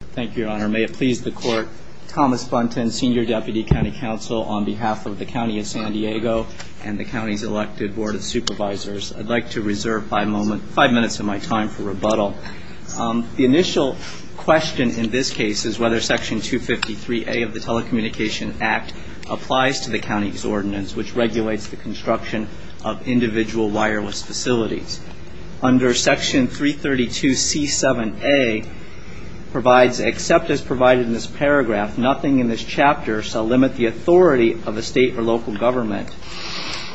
Thank you, Your Honor. May it please the Court, Thomas Buntin, Senior Deputy County Counsel, on behalf of the County of San Diego and the County's elected Board of Supervisors, I'd like to reserve five minutes of my time for rebuttal. The initial question in this case is whether Section 253A of the Telecommunication Act applies to the County's ordinance, which regulates the construction of individual wireless facilities. Under Section 332C7A provides, except as provided in this paragraph, nothing in this chapter shall limit the authority of a state or local government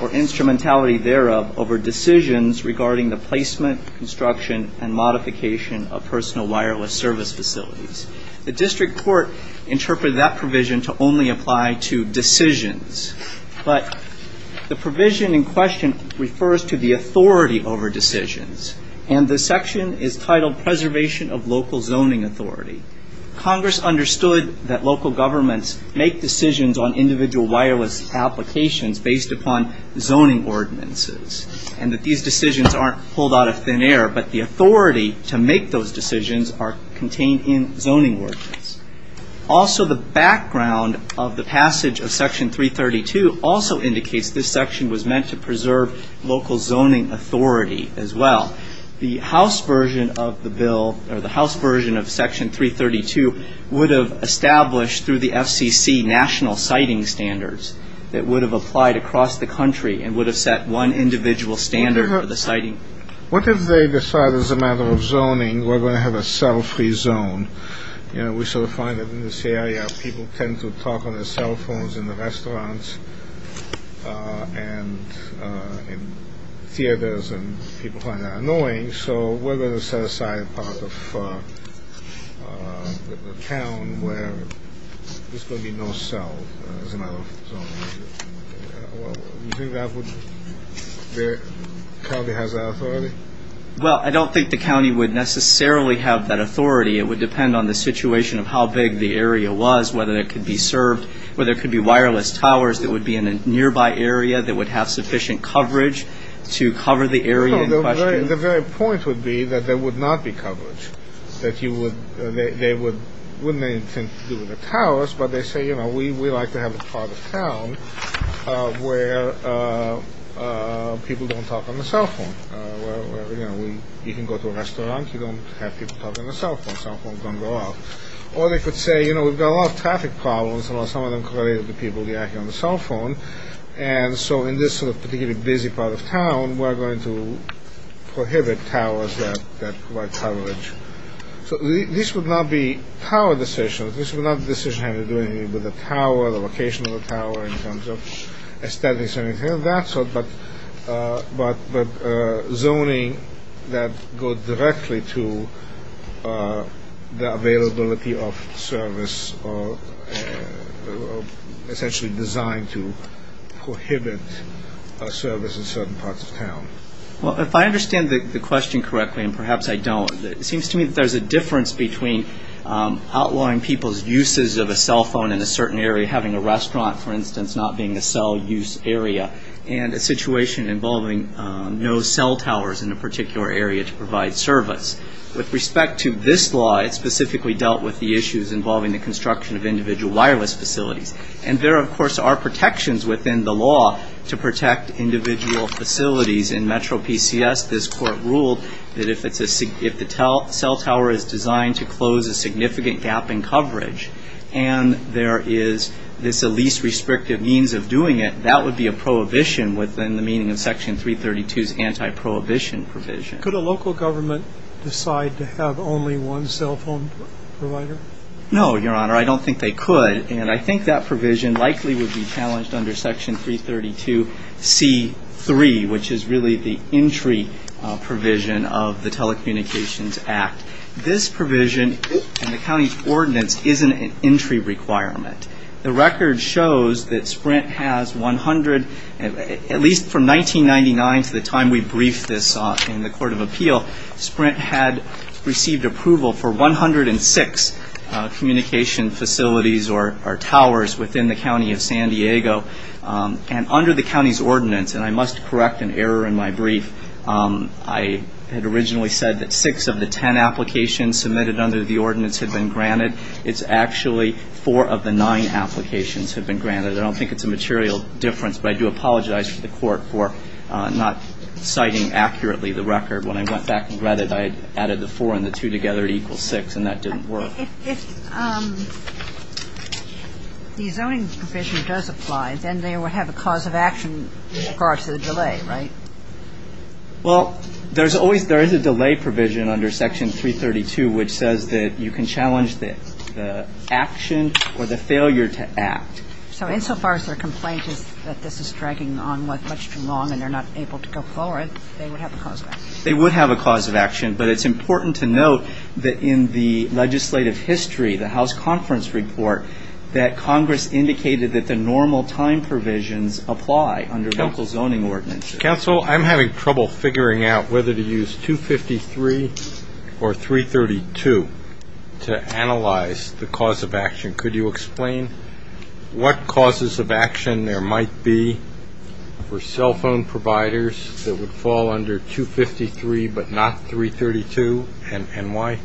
or instrumentality thereof over decisions regarding the placement, construction, and modification of personal wireless service facilities. The District Court interpreted that provision to only apply to decisions, but the provision in question refers to the authority over decisions, and the section is titled Preservation of Local Zoning Authority. Congress understood that local governments make decisions on individual wireless applications based upon zoning ordinances, and that these decisions aren't pulled out of thin air, but the authority to make those decisions are contained in zoning ordinances. Also, the background of the passage of Section 332 also indicates this section was meant to preserve local zoning authority as well. The House version of the bill, or the House version of Section 332, would have established through the FCC national siting standards that would have applied across the country and would have set one individual standard for the siting. What if they decide as a matter of zoning we're going to have a cell-free zone? You know, we sort of find that in this area people tend to talk on their cell phones in the restaurants and theaters, and people find that annoying, so we're going to set aside a part of the town where there's going to be no cell as a matter of zoning. Well, do you think the county has that authority? Well, I don't think the county would necessarily have that authority. It would depend on the situation of how big the area was, whether it could be served, whether it could be wireless towers that would be in a nearby area that would have sufficient coverage to cover the area in question. The very point would be that there would not be coverage. They wouldn't have anything to do with the towers, but they say, you know, we like to have a part of town where people don't talk on the cell phone. You know, you can go to a restaurant, you don't have people talking on the cell phone. Cell phones don't go off. Or they could say, you know, we've got a lot of traffic problems, and some of them are related to people reacting on the cell phone, and so in this sort of particularly busy part of town, we're going to prohibit towers that provide coverage. So this would not be tower decisions. This would not be a decision having to do anything with the tower, the location of the tower in terms of aesthetics or anything of that sort, but zoning that goes directly to the availability of service or essentially designed to prohibit service in certain parts of town. Well, if I understand the question correctly, and perhaps I don't, it seems to me that there's a difference between outlawing people's uses of a cell phone in a certain area, having a restaurant, for instance, not being a cell use area, and a situation involving no cell towers in a particular area to provide service. With respect to this law, it specifically dealt with the issues involving the construction of individual wireless facilities. And there, of course, are protections within the law to protect individual facilities. In Metro PCS, this court ruled that if the cell tower is designed to close a significant gap in coverage, and there is this least restrictive means of doing it, that would be a prohibition within the meaning of Section 332's anti-prohibition provision. Could a local government decide to have only one cell phone provider? No, Your Honor. I don't think they could. And I think that provision likely would be challenged under Section 332C3, which is really the entry provision of the Telecommunications Act. This provision in the county's ordinance isn't an entry requirement. The record shows that Sprint has 100, at least from 1999 to the time we briefed this in the Court of Appeal, Sprint had received approval for 106 communication facilities or towers within the county of San Diego. And under the county's ordinance, and I must correct an error in my brief, I had originally said that six of the ten applications submitted under the ordinance had been granted. It's actually four of the nine applications have been granted. I don't think it's a material difference, but I do apologize to the Court for not citing accurately the record. When I went back and read it, I added the four and the two together to equal six, and that didn't work. If the zoning provision does apply, then they would have a cause of action in regards to the delay, right? Well, there is a delay provision under Section 332 which says that you can challenge the action or the failure to act. So insofar as their complaint is that this is dragging on much too long and they're not able to go forward, they would have a cause of action. They would have a cause of action, but it's important to note that in the legislative history, the House Conference Report, that Congress indicated that the normal time provisions apply under local zoning ordinances. Mr. Counsel, I'm having trouble figuring out whether to use 253 or 332 to analyze the cause of action. Could you explain what causes of action there might be for cell phone providers that would fall under 253 but not 332, and why?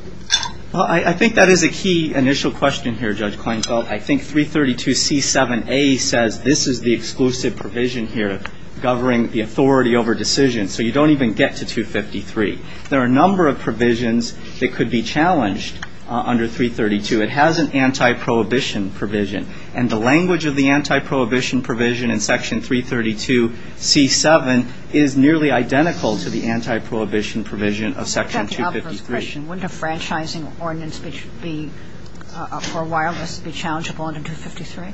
Well, I think that is a key initial question here, Judge Kleinfeld. I think 332C7A says this is the exclusive provision here governing the authority over decision. So you don't even get to 253. There are a number of provisions that could be challenged under 332. It has an anti-prohibition provision, and the language of the anti-prohibition provision in Section 332C7 is nearly identical to the anti-prohibition provision of Section 253. I have a question. Wouldn't a franchising ordinance for wireless be challengeable under 253?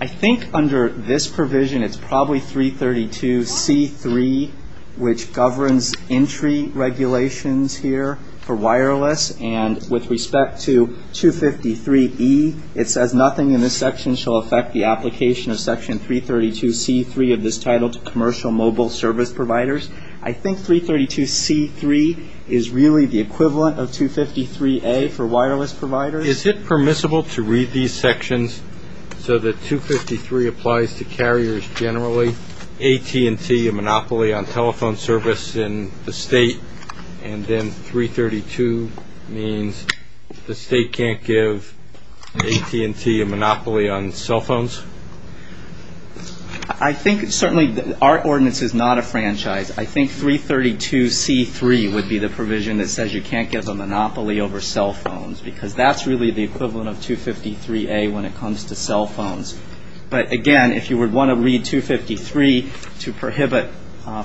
I think under this provision, it's probably 332C3, which governs entry regulations here for wireless. And with respect to 253E, it says nothing in this section shall affect the application of Section 332C3 of this title to commercial mobile service providers. I think 332C3 is really the equivalent of 253A for wireless providers. Is it permissible to read these sections so that 253 applies to carriers generally, AT&T a monopoly on telephone service in the state, and then 332 means the state can't give AT&T a monopoly on cell phones? I think certainly our ordinance is not a franchise. I think 332C3 would be the provision that says you can't give a monopoly over cell phones because that's really the equivalent of 253A when it comes to cell phones. But again, if you would want to read 253 to prohibit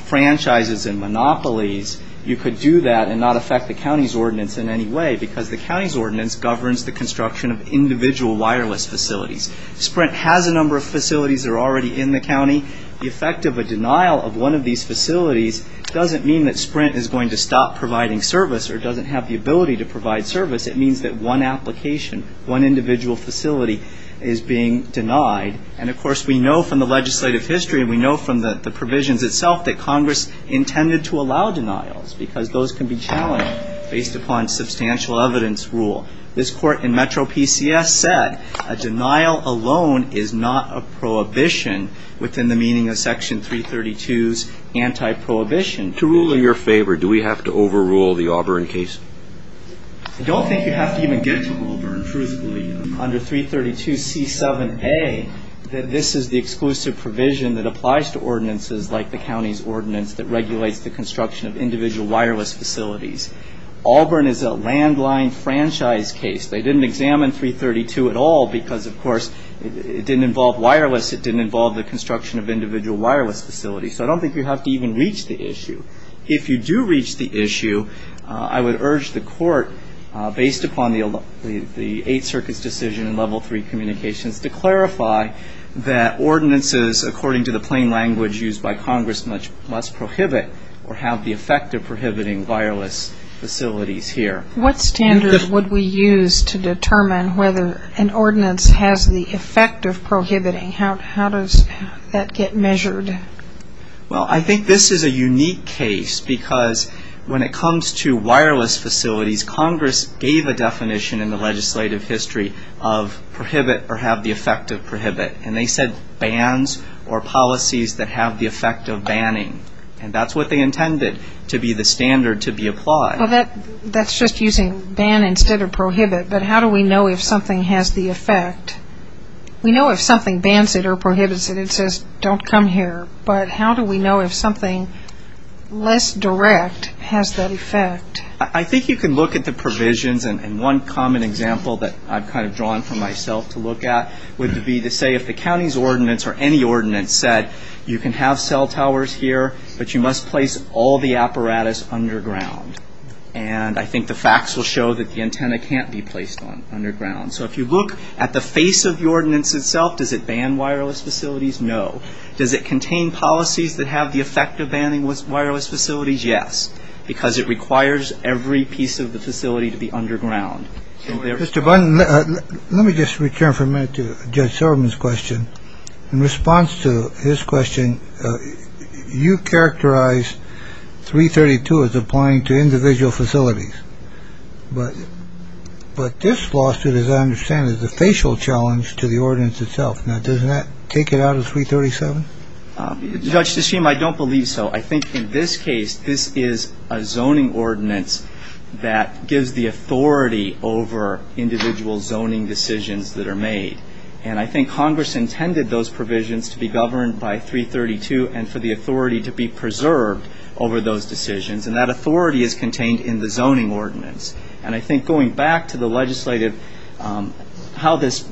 franchises and monopolies, you could do that and not affect the county's ordinance in any way because the county's ordinance governs the construction of individual wireless facilities. If Sprint has a number of facilities that are already in the county, the effect of a denial of one of these facilities doesn't mean that Sprint is going to stop providing service or doesn't have the ability to provide service. It means that one application, one individual facility is being denied. And, of course, we know from the legislative history and we know from the provisions itself that Congress intended to allow denials because those can be challenged based upon substantial evidence rule. This court in Metro PCS said a denial alone is not a prohibition within the meaning of Section 332's anti-prohibition. To rule in your favor, do we have to overrule the Auburn case? I don't think you have to even get to Auburn, truthfully. Under 332C7A, this is the exclusive provision that applies to ordinances like the county's ordinance that regulates the construction of individual wireless facilities. Auburn is a landline franchise case. They didn't examine 332 at all because, of course, it didn't involve wireless. It didn't involve the construction of individual wireless facilities. So I don't think you have to even reach the issue. If you do reach the issue, I would urge the court, based upon the Eighth Circuit's decision in Level 3 Communications, or have the effect of prohibiting wireless facilities here. What standard would we use to determine whether an ordinance has the effect of prohibiting? How does that get measured? Well, I think this is a unique case because when it comes to wireless facilities, Congress gave a definition in the legislative history of prohibit or have the effect of prohibit. And they said bans or policies that have the effect of banning. And that's what they intended to be the standard to be applied. Well, that's just using ban instead of prohibit. But how do we know if something has the effect? We know if something bans it or prohibits it. It says, don't come here. But how do we know if something less direct has that effect? I think you can look at the provisions, and one common example that I've kind of drawn from myself to look at would be to say if the county's ordinance or any ordinance said you can have cell towers here, but you must place all the apparatus underground. And I think the facts will show that the antenna can't be placed on underground. So if you look at the face of the ordinance itself, does it ban wireless facilities? No. Does it contain policies that have the effect of banning wireless facilities? Yes, because it requires every piece of the facility to be underground. Mr. Bunn, let me just return for a minute to Judge Silverman's question. In response to his question, you characterize 332 as applying to individual facilities. But this lawsuit, as I understand it, is a facial challenge to the ordinance itself. Now, doesn't that take it out of 337? Judge, I don't believe so. I think in this case, this is a zoning ordinance that gives the authority over individual zoning decisions that are made. And I think Congress intended those provisions to be governed by 332 and for the authority to be preserved over those decisions, and that authority is contained in the zoning ordinance. And I think going back to the legislative, how this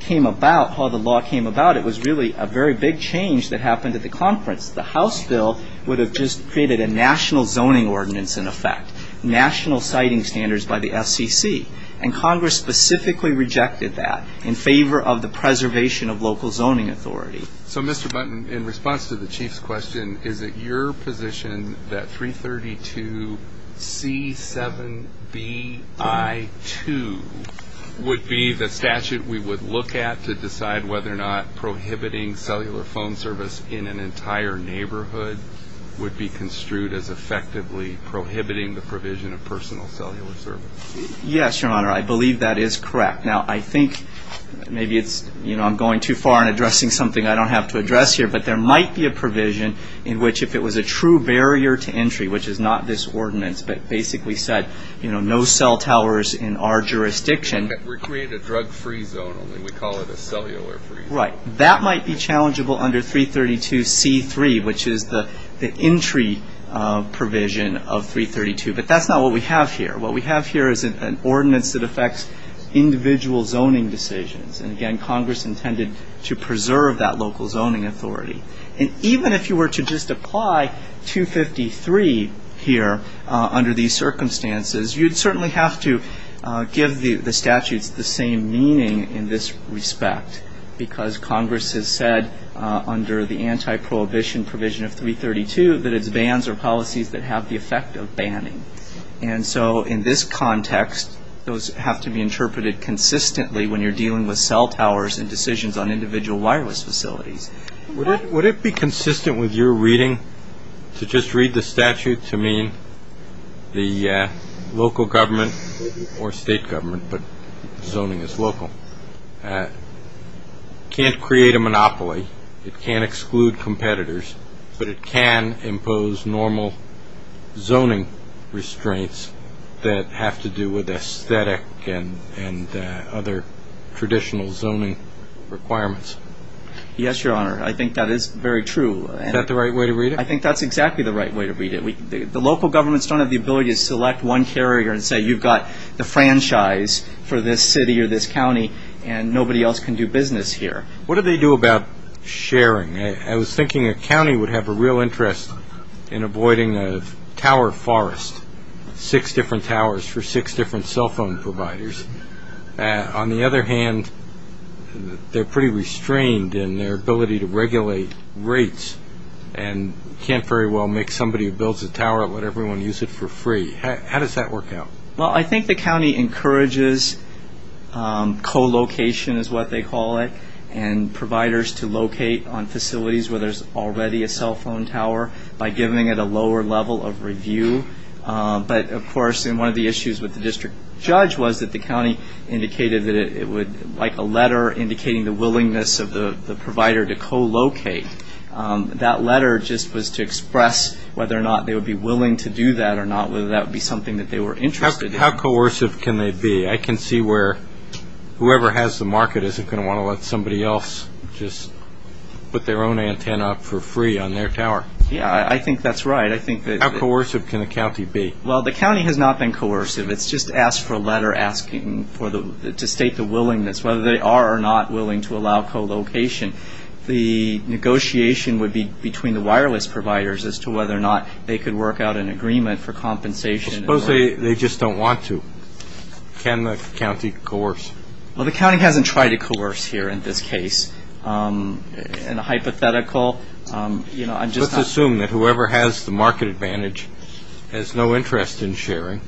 came about, how the law came about, it was really a very big change that happened at the conference. The House bill would have just created a national zoning ordinance in effect, national siting standards by the FCC. And Congress specifically rejected that in favor of the preservation of local zoning authority. So, Mr. Bunn, in response to the Chief's question, is it your position that 332C7BI2 would be the statute we would look at to decide whether or not prohibiting cellular phone service in an entire neighborhood would be construed as effectively prohibiting the provision of personal cellular service? Yes, Your Honor, I believe that is correct. Now, I think maybe it's, you know, I'm going too far in addressing something I don't have to address here, but there might be a provision in which if it was a true barrier to entry, which is not this ordinance but basically said, you know, no cell towers in our jurisdiction. We create a drug-free zone only. We call it a cellular-free zone. Right. That might be challengeable under 332C3, which is the entry provision of 332. But that's not what we have here. What we have here is an ordinance that affects individual zoning decisions. And, again, Congress intended to preserve that local zoning authority. And even if you were to just apply 253 here under these circumstances, you'd certainly have to give the statutes the same meaning in this respect because Congress has said under the anti-prohibition provision of 332 that it's bans or policies that have the effect of banning. And so in this context, those have to be interpreted consistently when you're dealing with cell towers and decisions on individual wireless facilities. Would it be consistent with your reading to just read the statute to mean the local government or state government, but zoning is local, can't create a monopoly, it can't exclude competitors, but it can impose normal zoning restraints that have to do with aesthetic and other traditional zoning requirements? Yes, Your Honor, I think that is very true. Is that the right way to read it? I think that's exactly the right way to read it. The local governments don't have the ability to select one carrier and say you've got the franchise for this city or this county and nobody else can do business here. What do they do about sharing? I was thinking a county would have a real interest in avoiding a tower forest, six different towers for six different cell phone providers. On the other hand, they're pretty restrained in their ability to regulate rates and can't very well make somebody who builds a tower let everyone use it for free. How does that work out? Well, I think the county encourages co-location is what they call it and providers to locate on facilities where there's already a cell phone tower by giving it a lower level of review. But, of course, one of the issues with the district judge was that the county indicated that it would like a letter indicating the willingness of the provider to co-locate. That letter just was to express whether or not they would be willing to do that or not whether that would be something that they were interested in. How coercive can they be? I can see where whoever has the market isn't going to want to let somebody else just put their own antenna up for free on their tower. Yeah, I think that's right. How coercive can a county be? Well, the county has not been coercive. It's just asked for a letter asking to state the willingness, whether they are or not willing to allow co-location. The negotiation would be between the wireless providers as to whether or not they could work out an agreement for compensation. Suppose they just don't want to. Can the county coerce? Well, the county hasn't tried to coerce here in this case. In a hypothetical, you know, I'm just not. Let's assume that whoever has the market advantage has no interest in sharing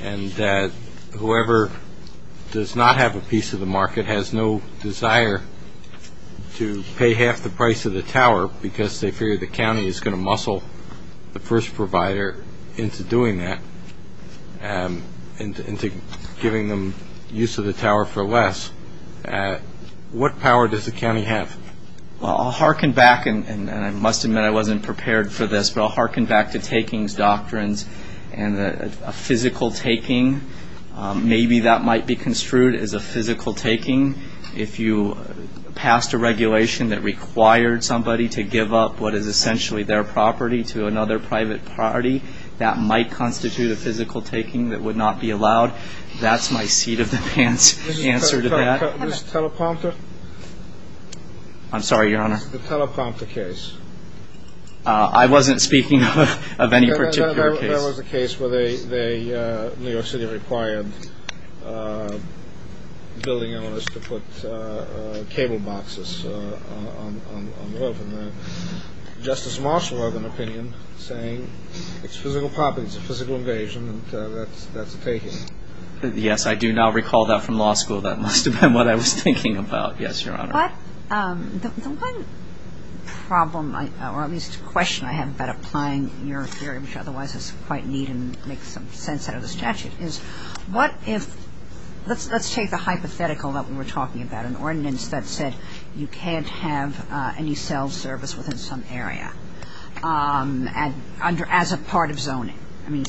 and that whoever does not have a piece of the market has no desire to pay half the price of the tower because they fear the county is going to muscle the first provider into doing that and into giving them use of the tower for less. What power does the county have? Well, I'll hearken back, and I must admit I wasn't prepared for this, but I'll hearken back to takings doctrines and a physical taking. Maybe that might be construed as a physical taking. If you passed a regulation that required somebody to give up what is essentially their property to another private party, that might constitute a physical taking that would not be allowed. That's my seat of the pants answer to that. Teleprompter. I'm sorry, Your Honor. The teleprompter case. I wasn't speaking of any particular case. There was a case where New York City required building owners to put cable boxes on the roof. Justice Marshall had an opinion saying it's physical property. It's a physical invasion, and that's a taking. Yes, I do now recall that from law school. That must have been what I was thinking about. Yes, Your Honor. But the one problem or at least question I have about applying your theory, which otherwise is quite neat and makes some sense out of the statute, is what if let's take the hypothetical that we were talking about, an ordinance that said you can't have any cell service within some area as a part of zoning. I mean,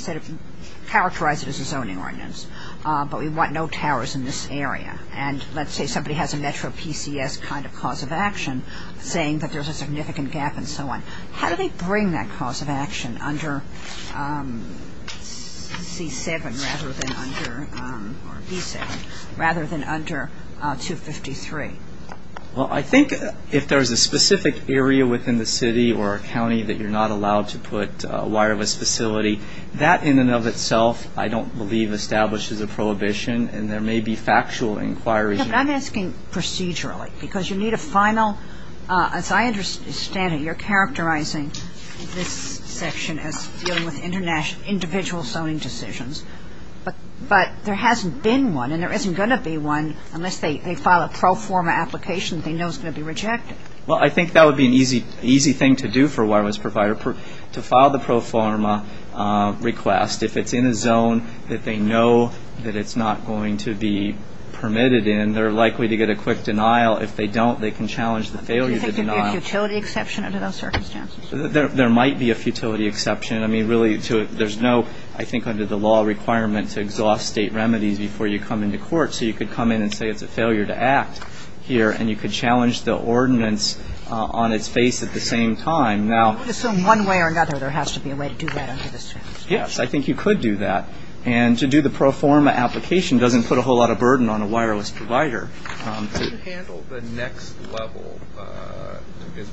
characterize it as a zoning ordinance, but we want no towers in this area. And let's say somebody has a metro PCS kind of cause of action saying that there's a significant gap and so on. How do they bring that cause of action under C-7 rather than under, or B-7, rather than under 253? Well, I think if there's a specific area within the city or a county that you're not allowed to put a wireless facility, that in and of itself I don't believe establishes a prohibition, and there may be factual inquiries. I'm asking procedurally because you need a final, as I understand it, you're characterizing this section as dealing with individual zoning decisions, but there hasn't been one and there isn't going to be one unless they file a pro forma application they know is going to be rejected. Well, I think that would be an easy thing to do for a wireless provider, to file the pro forma request. If it's in a zone that they know that it's not going to be permitted in, they're likely to get a quick denial. If they don't, they can challenge the failure of the denial. Do you think there could be a futility exception under those circumstances? There might be a futility exception. I mean, really, there's no, I think, under the law requirement to exhaust State remedies before you come into court. So you could come in and say it's a failure to act here, and you could challenge the ordinance on its face at the same time. Now, I would assume one way or another there has to be a way to do that under the circumstances. Yes, I think you could do that. And to do the pro forma application doesn't put a whole lot of burden on a wireless provider. How do you handle the next level,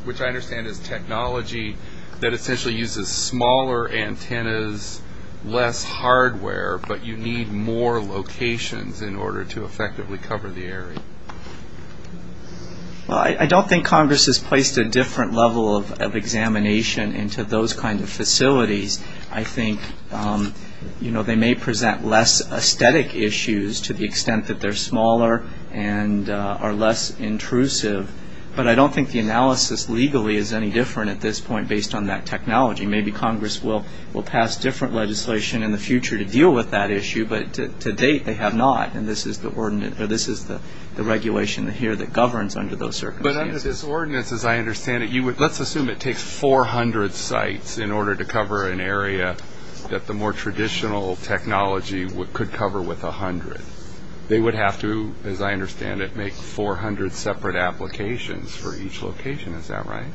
which I understand is technology that essentially uses smaller antennas, less hardware, but you need more locations in order to effectively cover the area? Well, I don't think Congress has placed a different level of examination into those kinds of facilities. I think, you know, they may present less aesthetic issues to the extent that they're smaller and are less intrusive, but I don't think the analysis legally is any different at this point based on that technology. Maybe Congress will pass different legislation in the future to deal with that issue, but to date they have not, and this is the regulation here that governs under those circumstances. But under this ordinance, as I understand it, let's assume it takes 400 sites in order to cover an area that the more traditional technology could cover with 100. They would have to, as I understand it, make 400 separate applications for each location. Is that right?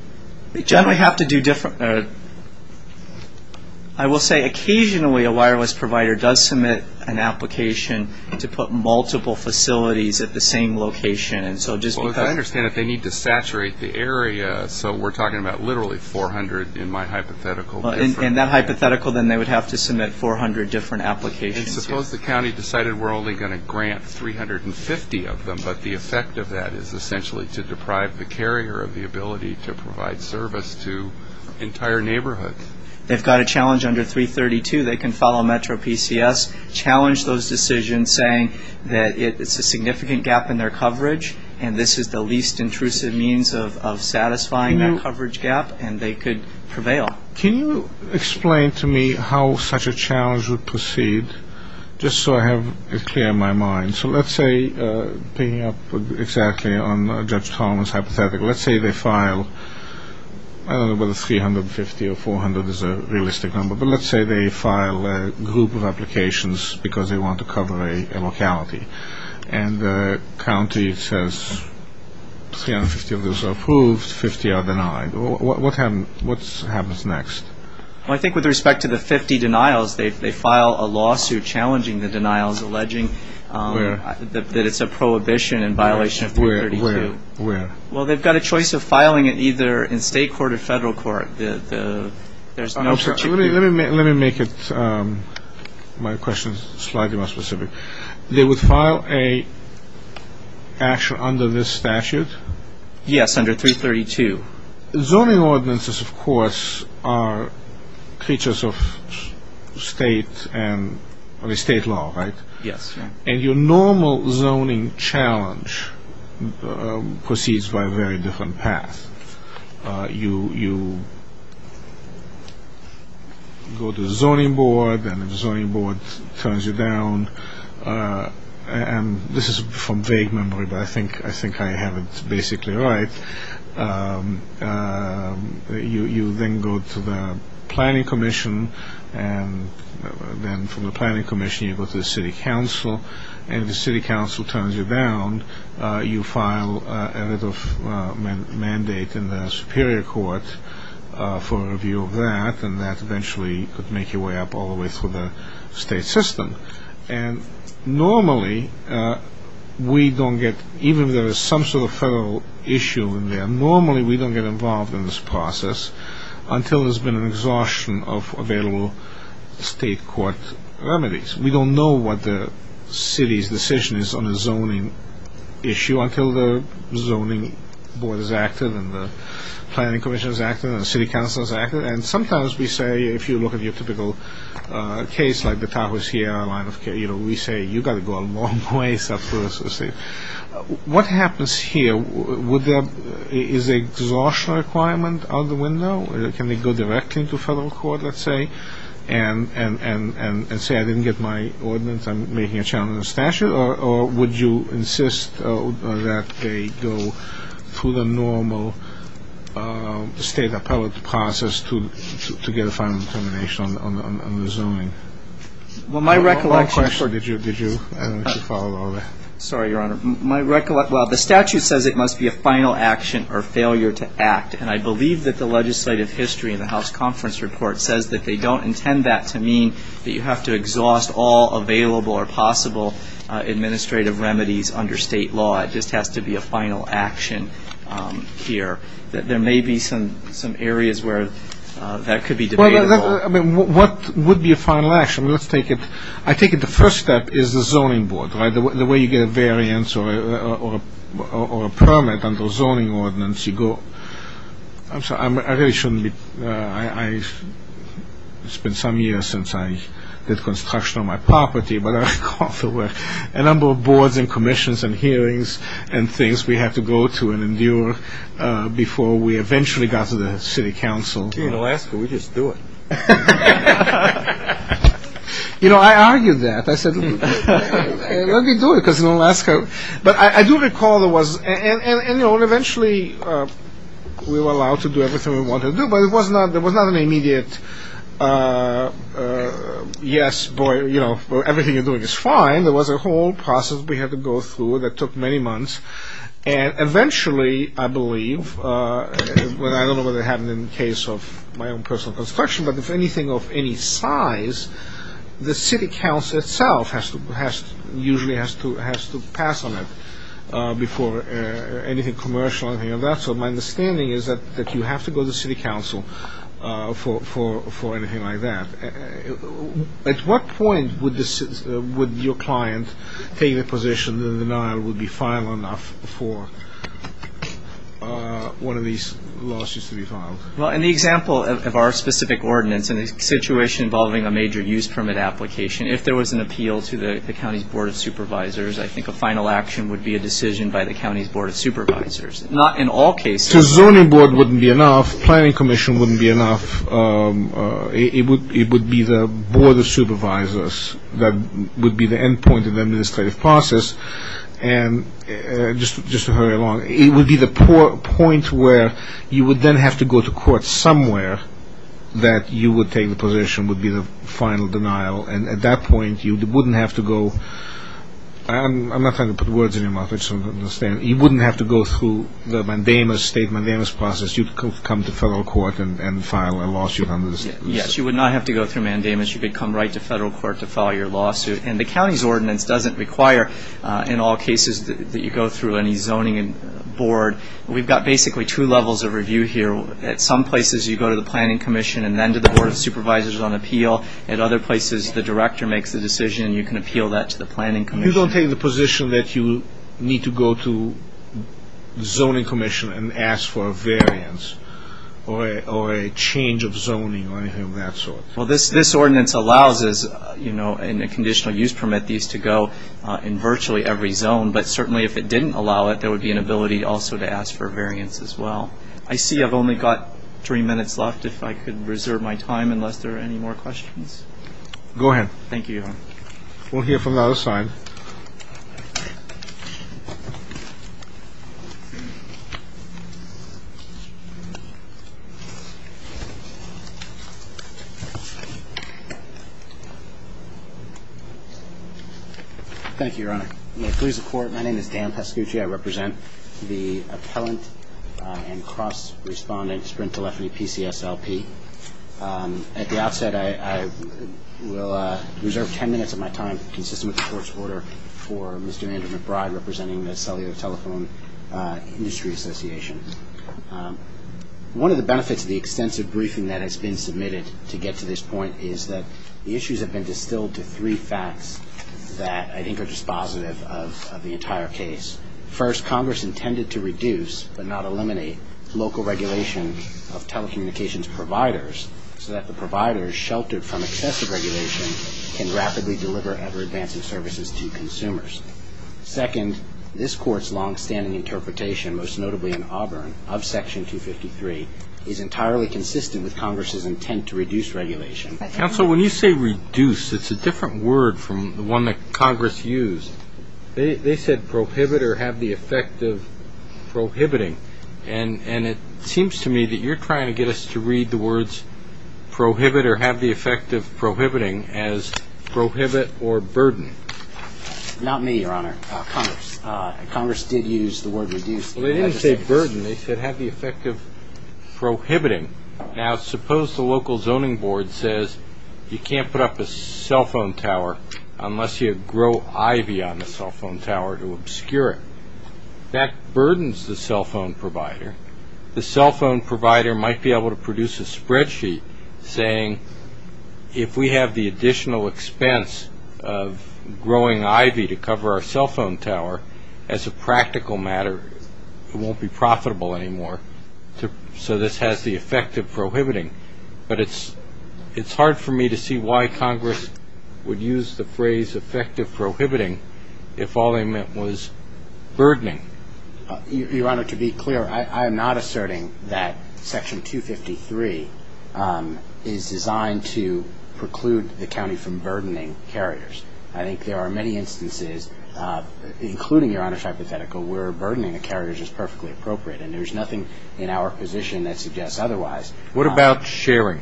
They generally have to do different. I will say occasionally a wireless provider does submit an application to put multiple facilities at the same location. As I understand it, they need to saturate the area, so we're talking about literally 400 in my hypothetical. In that hypothetical, then they would have to submit 400 different applications. Suppose the county decided we're only going to grant 350 of them, but the effect of that is essentially to deprive the carrier of the ability to provide service to entire neighborhoods. They've got a challenge under 332. They can follow Metro PCS, challenge those decisions saying that it's a significant gap in their coverage and this is the least intrusive means of satisfying that coverage gap, and they could prevail. Can you explain to me how such a challenge would proceed, just so I have it clear in my mind? So let's say, picking up exactly on Judge Thomas' hypothetical, let's say they file, I don't know whether 350 or 400 is a realistic number, but let's say they file a group of applications because they want to cover a locality, and the county says 350 of those are approved, 50 are denied. What happens next? I think with respect to the 50 denials, they file a lawsuit challenging the denials, alleging that it's a prohibition in violation of 332. Where? Well, they've got a choice of filing it either in state court or federal court. Let me make my question slightly more specific. They would file an action under this statute? Yes, under 332. Zoning ordinances, of course, are features of state law, right? Yes. And your normal zoning challenge proceeds by a very different path. You go to the zoning board, and the zoning board turns you down, and this is from vague memory, but I think I have it basically right. You then go to the planning commission, and then from the planning commission you go to the city council, and if the city council turns you down, you file a little mandate in the superior court for a review of that, and that eventually could make your way up all the way through the state system. And normally we don't get, even if there is some sort of federal issue in there, normally we don't get involved in this process until there's been an exhaustion of available state court remedies. We don't know what the city's decision is on a zoning issue until the zoning board is active and the planning commission is active and the city council is active. And sometimes we say, if you look at your typical case, like the Tahoe Sierra line of care, we say you've got to go a long ways up through the state. What happens here? Is there an exhaustion requirement out the window? Can they go directly into federal court, let's say, and say I didn't get my ordinance, I'm making a challenge to the statute, or would you insist that they go through the normal state appellate process to get a final determination on the zoning? Well, my recollection... One question. Did you follow all that? Sorry, Your Honor. My recollection, well, the statute says it must be a final action or failure to act. And I believe that the legislative history in the House Conference Report says that they don't intend that to mean that you have to exhaust all available or possible administrative remedies under state law. It just has to be a final action here. There may be some areas where that could be debatable. I mean, what would be a final action? I take it the first step is the zoning board, right? The way you get a variance or a permit under a zoning ordinance, you go... I'm sorry, I really shouldn't be... It's been some years since I did construction on my property, but I recall there were a number of boards and commissions and hearings and things we had to go to and endure before we eventually got to the city council. Gee, in Alaska, we just do it. You know, I argued that. I said, let me do it, because in Alaska... But I do recall there was... And, you know, eventually we were allowed to do everything we wanted to do, but it was not an immediate yes, boy, you know, everything you're doing is fine. There was a whole process we had to go through that took many months. And eventually, I believe, I don't know whether it happened in the case of my own personal construction, but if anything of any size, the city council itself usually has to pass on it before anything commercial, anything of that sort. My understanding is that you have to go to the city council for anything like that. At what point would your client take the position that the denial would be final enough for one of these lawsuits to be filed? Well, in the example of our specific ordinance and the situation involving a major use permit application, if there was an appeal to the county's board of supervisors, I think a final action would be a decision by the county's board of supervisors. Not in all cases. So zoning board wouldn't be enough, planning commission wouldn't be enough. It would be the board of supervisors that would be the end point of the administrative process. And just to hurry along, it would be the point where you would then have to go to court somewhere that you would take the position would be the final denial. And at that point, you wouldn't have to go. I'm not trying to put words in your mouth. I just don't understand. You wouldn't have to go through the mandamus, state mandamus process. Unless you come to federal court and file a lawsuit on this. Yes, you would not have to go through mandamus. You could come right to federal court to file your lawsuit. And the county's ordinance doesn't require, in all cases, that you go through any zoning board. We've got basically two levels of review here. At some places, you go to the planning commission and then to the board of supervisors on appeal. At other places, the director makes the decision, and you can appeal that to the planning commission. You don't take the position that you need to go to the zoning commission and ask for a variance or a change of zoning or anything of that sort. Well, this ordinance allows us, you know, in a conditional use permit, these to go in virtually every zone. But certainly if it didn't allow it, there would be an ability also to ask for a variance as well. I see I've only got three minutes left. If I could reserve my time unless there are any more questions. Go ahead. Thank you. We'll hear from the other side. Thank you, Your Honor. May it please the Court, my name is Dan Pascucci. I represent the appellant and cross-respondent Sprint Telephony PCSLP. At the outset, I will reserve ten minutes of my time consistent with the court's order for Mr. Andrew McBride, representing the Cellular Telephone Industry Association. One of the benefits of the extensive briefing that has been submitted to get to this point is that the issues have been distilled to three facts that I think are dispositive of the entire case. First, Congress intended to reduce, but not eliminate, local regulation of telecommunications providers so that the providers sheltered from excessive regulation can rapidly deliver ever-advancing services to consumers. Second, this Court's longstanding interpretation, most notably in Auburn, of Section 253, is entirely consistent with Congress's intent to reduce regulation. Counsel, when you say reduce, it's a different word from the one that Congress used. They said prohibit or have the effect of prohibiting. And it seems to me that you're trying to get us to read the words prohibit or have the effect of prohibiting as prohibit or burden. Not me, Your Honor. Congress did use the word reduce. Well, they didn't say burden. They said have the effect of prohibiting. Now suppose the local zoning board says you can't put up a cell phone tower unless you grow ivy on the cell phone tower to obscure it. That burdens the cell phone provider. The cell phone provider might be able to produce a spreadsheet saying if we have the additional expense of growing ivy to cover our cell phone tower, as a practical matter it won't be profitable anymore. So this has the effect of prohibiting. But it's hard for me to see why Congress would use the phrase effect of prohibiting if all they meant was burdening. Your Honor, to be clear, I am not asserting that Section 253 is designed to preclude the county from burdening carriers. I think there are many instances, including Your Honor's hypothetical, where burdening of carriers is perfectly appropriate. And there's nothing in our position that suggests otherwise. What about sharing?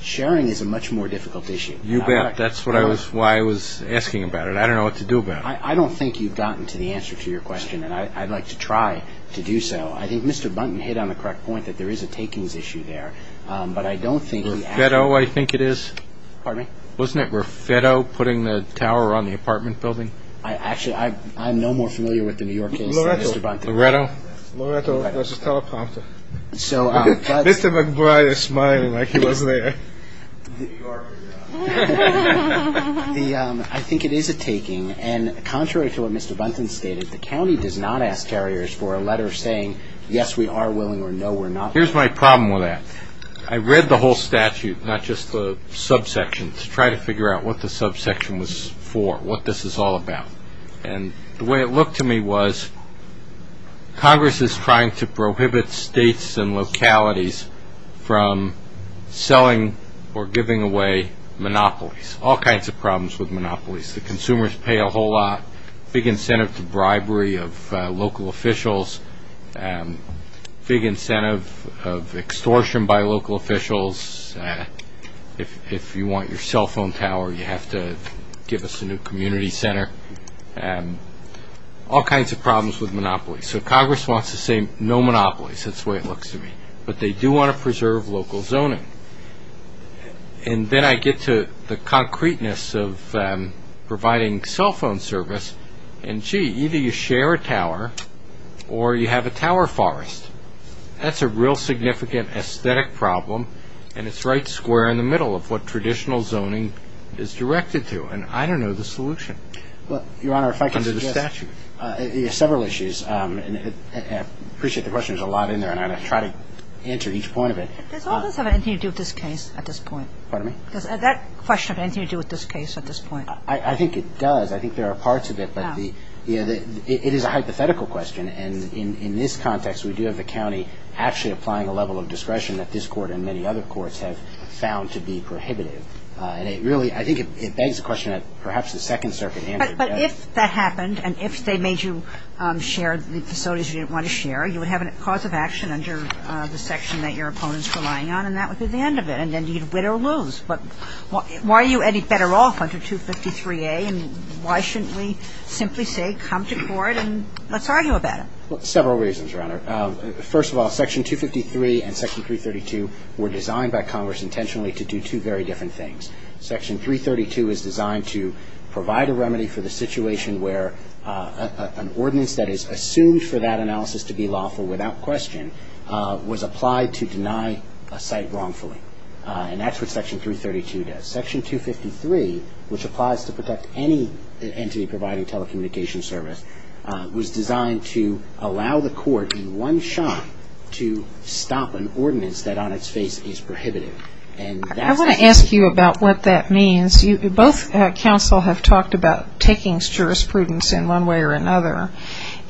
Sharing is a much more difficult issue. You bet. That's why I was asking about it. I don't know what to do about it. I don't think you've gotten to the answer to your question. And I'd like to try to do so. I think Mr. Buntin hit on the correct point that there is a takings issue there. But I don't think he actually ---- Raffetto, I think it is. Pardon me? Wasn't it Raffetto putting the tower on the apartment building? Actually, I'm no more familiar with the New York case than Mr. Buntin. Loretto? Loretto was a teleprompter. Mr. McBride is smiling like he was there. I think it is a taking. And contrary to what Mr. Buntin stated, the county does not ask carriers for a letter saying, yes, we are willing or no, we're not. Here's my problem with that. I read the whole statute, not just the subsection, to try to figure out what the subsection was for, what this is all about. And the way it looked to me was Congress is trying to prohibit states and localities from selling or giving away monopolies, all kinds of problems with monopolies. The consumers pay a whole lot, big incentive to bribery of local officials, big incentive of extortion by local officials. If you want your cell phone tower, you have to give us a new community center. All kinds of problems with monopolies. So Congress wants to say no monopolies. That's the way it looks to me. But they do want to preserve local zoning. And then I get to the concreteness of providing cell phone service, and gee, either you share a tower or you have a tower forest. That's a real significant aesthetic problem, and it's right square in the middle of what traditional zoning is directed to. And I don't know the solution. Your Honor, if I can suggest several issues. I appreciate the question. There's a lot in there, and I'm going to try to answer each point of it. Does all this have anything to do with this case at this point? Pardon me? Does that question have anything to do with this case at this point? I think it does. I think there are parts of it, but it is a hypothetical question. And in this context, we do have the county actually applying a level of discretion that this Court and many other courts have found to be prohibitive. And it really ‑‑ I think it begs the question that perhaps the Second Circuit answered that. But if that happened, and if they made you share the facilities you didn't want to share, you would have a cause of action under the section that your opponent is relying on, and that would be the end of it. And then you'd win or lose. But why are you any better off under 253A? And why shouldn't we simply say come to court and let's argue about it? Well, several reasons, Your Honor. First of all, section 253 and section 332 were designed by Congress intentionally to do two very different things. Section 332 is designed to provide a remedy for the situation where an ordinance that is assumed for that analysis to be lawful without question was applied to deny a site wrongfully. And that's what section 332 does. Section 253, which applies to protect any entity providing telecommunication service, was designed to allow the court in one shot to stop an ordinance that on its face is prohibitive. I want to ask you about what that means. Both counsel have talked about taking jurisprudence in one way or another.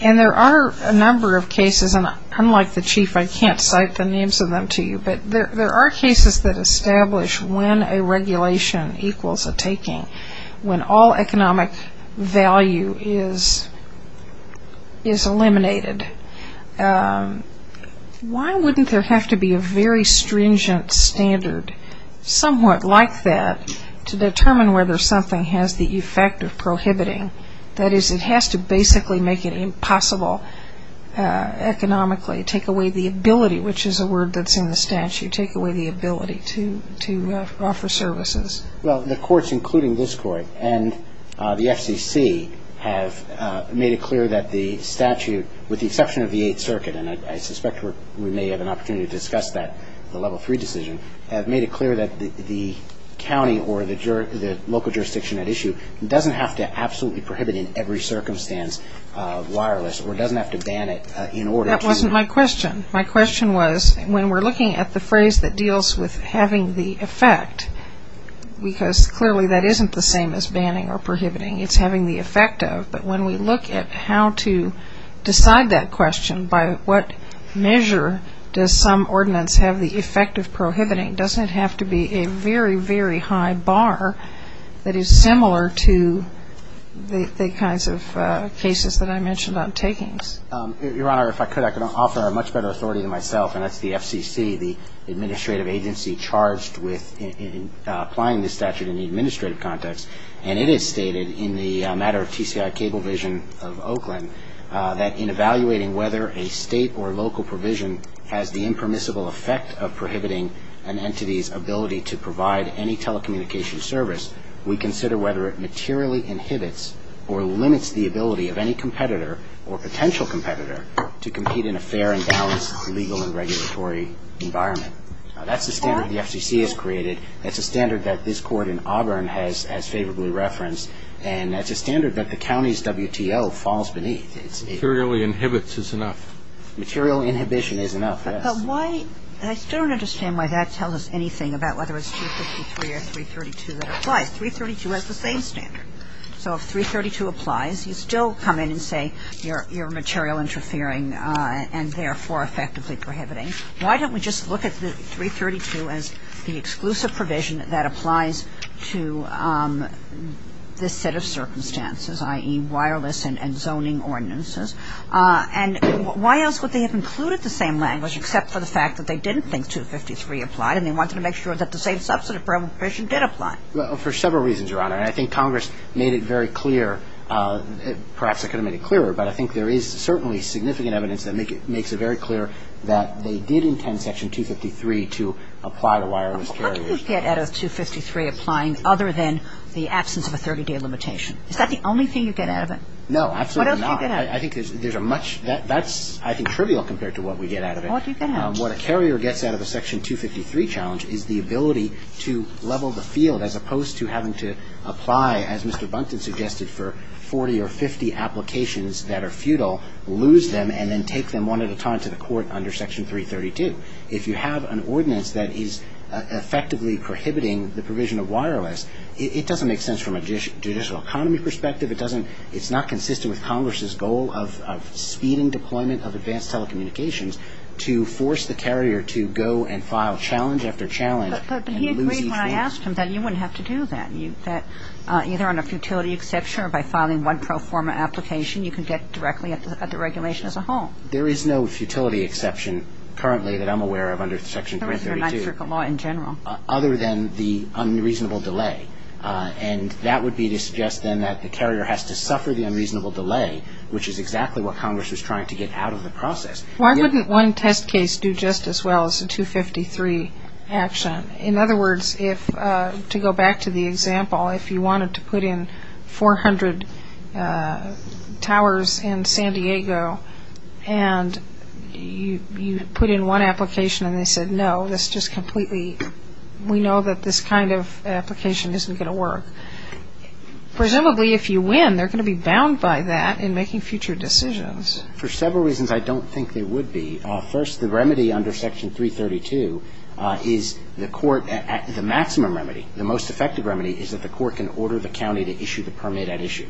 And there are a number of cases, and unlike the Chief, I can't cite the names of them to you, but there are cases that establish when a regulation equals a taking, when all economic value is eliminated. Why wouldn't there have to be a very stringent standard somewhat like that to determine whether something has the effect of prohibiting? That is, it has to basically make it impossible economically, take away the ability, which is a word that's in the statute, take away the ability to offer services. Well, the courts, including this Court and the FCC, have made it clear that the statute, with the exception of the Eighth Circuit, and I suspect we may have an opportunity to discuss that, the Level 3 decision, have made it clear that the county or the local jurisdiction at issue doesn't have to absolutely prohibit in every circumstance wireless or doesn't have to ban it in order to My question was, when we're looking at the phrase that deals with having the effect, because clearly that isn't the same as banning or prohibiting, it's having the effect of, but when we look at how to decide that question, by what measure does some ordinance have the effect of prohibiting, doesn't it have to be a very, very high bar that is similar to the kinds of cases that I mentioned on takings? Your Honor, if I could, I could offer a much better authority to myself, and that's the FCC, the administrative agency charged with applying this statute in the administrative context. And it is stated in the matter of TCI Cablevision of Oakland that in evaluating whether a state or local provision has the impermissible effect of prohibiting an entity's ability to provide any telecommunication service, we consider whether it materially inhibits or limits the ability of any competitor or potential competitor to compete in a fair and balanced legal and regulatory environment. That's the standard the FCC has created. That's a standard that this Court in Auburn has favorably referenced, and that's a standard that the county's WTO falls beneath. Materially inhibits is enough. Material inhibition is enough, yes. But why? I still don't understand why that tells us anything about whether it's 353 or 332 that applies. 332 has the same standard. So if 332 applies, you still come in and say you're material interfering and therefore effectively prohibiting. Why don't we just look at 332 as the exclusive provision that applies to this set of circumstances, i.e., wireless and zoning ordinances? And why else would they have included the same language except for the fact that they didn't think 253 applied and they wanted to make sure that the same substantive provision did apply? Well, for several reasons, Your Honor. I think Congress made it very clear, perhaps they could have made it clearer, but I think there is certainly significant evidence that makes it very clear that they did intend Section 253 to apply to wireless carriers. How do you get out of 253 applying other than the absence of a 30-day limitation? Is that the only thing you get out of it? No, absolutely not. What else do you get out of it? I think there's a much ñ that's, I think, trivial compared to what we get out of it. What do you get out of it? What a carrier gets out of a Section 253 challenge is the ability to level the case, apply, as Mr. Bunton suggested, for 40 or 50 applications that are futile, lose them, and then take them one at a time to the court under Section 332. If you have an ordinance that is effectively prohibiting the provision of wireless, it doesn't make sense from a judicial economy perspective. It doesn't ñ it's not consistent with Congress's goal of speeding deployment of advanced telecommunications to force the carrier to go and file challenge after challenge and lose these things. But I asked him that you wouldn't have to do that. That either on a futility exception or by filing one pro forma application, you can get directly at the regulation as a whole. There is no futility exception currently that I'm aware of under Section 332. There isn't under Ninth Circuit law in general. Other than the unreasonable delay. And that would be to suggest then that the carrier has to suffer the unreasonable delay, which is exactly what Congress was trying to get out of the process. Why wouldn't one test case do just as well as a 253 action? In other words, if ñ to go back to the example, if you wanted to put in 400 towers in San Diego, and you put in one application and they said, no, this just completely ñ we know that this kind of application isn't going to work. Presumably if you win, they're going to be bound by that in making future decisions. For several reasons I don't think they would be. First, the remedy under Section 332 is the court ñ the maximum remedy, the most effective remedy is that the court can order the county to issue the permit at issue.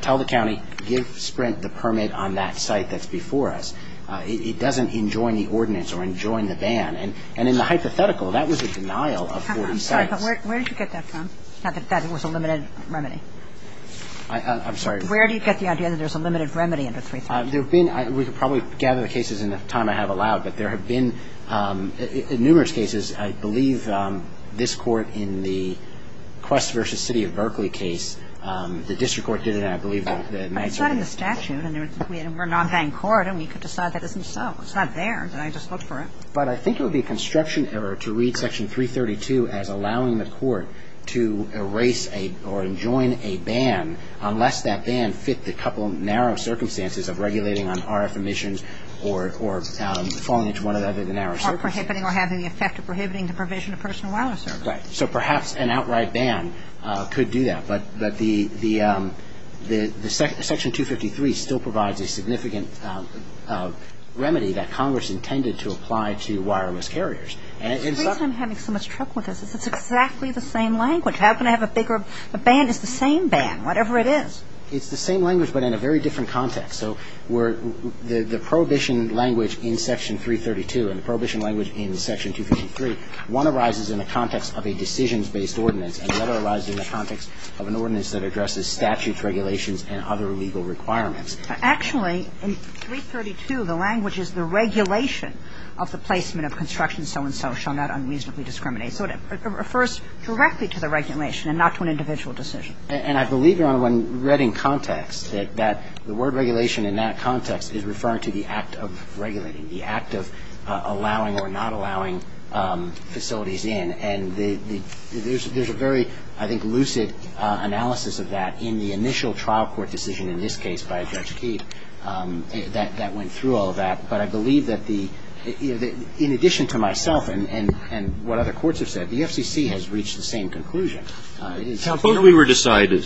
Tell the county, give Sprint the permit on that site that's before us. It doesn't enjoin the ordinance or enjoin the ban. And in the hypothetical, that was a denial of 40 sites. I'm sorry, but where did you get that from? Not that that was a limited remedy. I'm sorry. Where do you get the idea that there's a limited remedy under 332? There have been ñ we could probably gather the cases in the time I have allowed, but there have been numerous cases. I believe this Court in the Quest v. City of Berkeley case, the district court did it, and I believe that ñ But it's not in the statute. And we're not paying court, and we could decide that isn't so. It's not there. Did I just look for it? But I think it would be a construction error to read Section 332 as allowing the court to erase or enjoin a ban unless that ban fit the couple of narrow circumstances of regulating on RF emissions or falling into one of the other narrow circumstances. Or prohibiting or having the effect of prohibiting the provision of personal wireless service. Right. So perhaps an outright ban could do that. But the ñ Section 253 still provides a significant remedy that Congress intended to apply to wireless carriers. The reason I'm having so much trouble with this is it's exactly the same language. How can I have a bigger ñ a ban that's the same ban, whatever it is? It's the same language but in a very different context. So we're ñ the prohibition language in Section 332 and the prohibition language in Section 253, one arises in the context of a decisions-based ordinance, and the other arises in the context of an ordinance that addresses statute regulations and other legal requirements. Actually, in 332, the language is the regulation of the placement of construction so-and-so shall not unreasonably discriminate. So it refers directly to the regulation and not to an individual decision. And I believe, Your Honor, when read in context that the word regulation in that context is referring to the act of regulating, the act of allowing or not allowing facilities in, and the ñ there's a very, I think, lucid analysis of that in the initial trial court decision in this case by Judge Keefe that went through all of that. But I believe that the ñ in addition to myself and what other courts have said, the FCC has reached the same conclusion. It's how closely we were decided.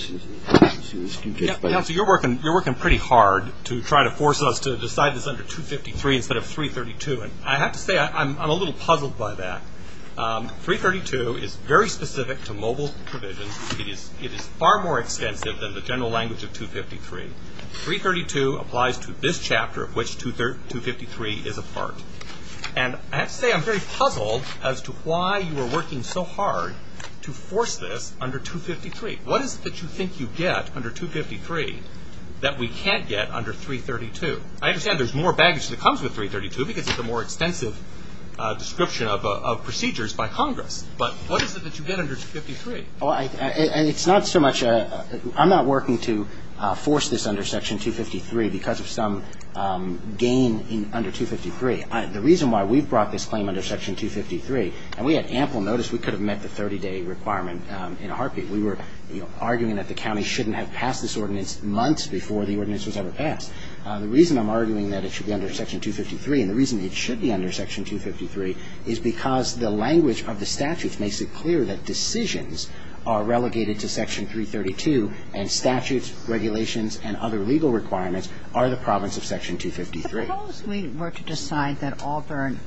Counsel, you're working pretty hard to try to force us to decide this under 253 instead of 332. And I have to say I'm a little puzzled by that. 332 is very specific to mobile provisions. It is far more extensive than the general language of 253. 332 applies to this chapter of which 253 is a part. And I have to say I'm very puzzled as to why you were working so hard to force this under 253. What is it that you think you get under 253 that we can't get under 332? I understand there's more baggage that comes with 332 because it's a more extensive description of procedures by Congress. But what is it that you get under 253? Well, it's not so much ñ I'm not working to force this under Section 253 because of some gain under 253. The reason why we've brought this claim under Section 253 ñ and we had ample notice we could have met the 30-day requirement in a heartbeat. We were, you know, arguing that the county shouldn't have passed this ordinance months before the ordinance was ever passed. The reason I'm arguing that it should be under Section 253 and the reason it should be under Section 253 is because the language of the statutes makes it clear that decisions are relegated to Section 332 and statutes, regulations and other legal requirements are the province of Section 253. But suppose we were to decide that Auburn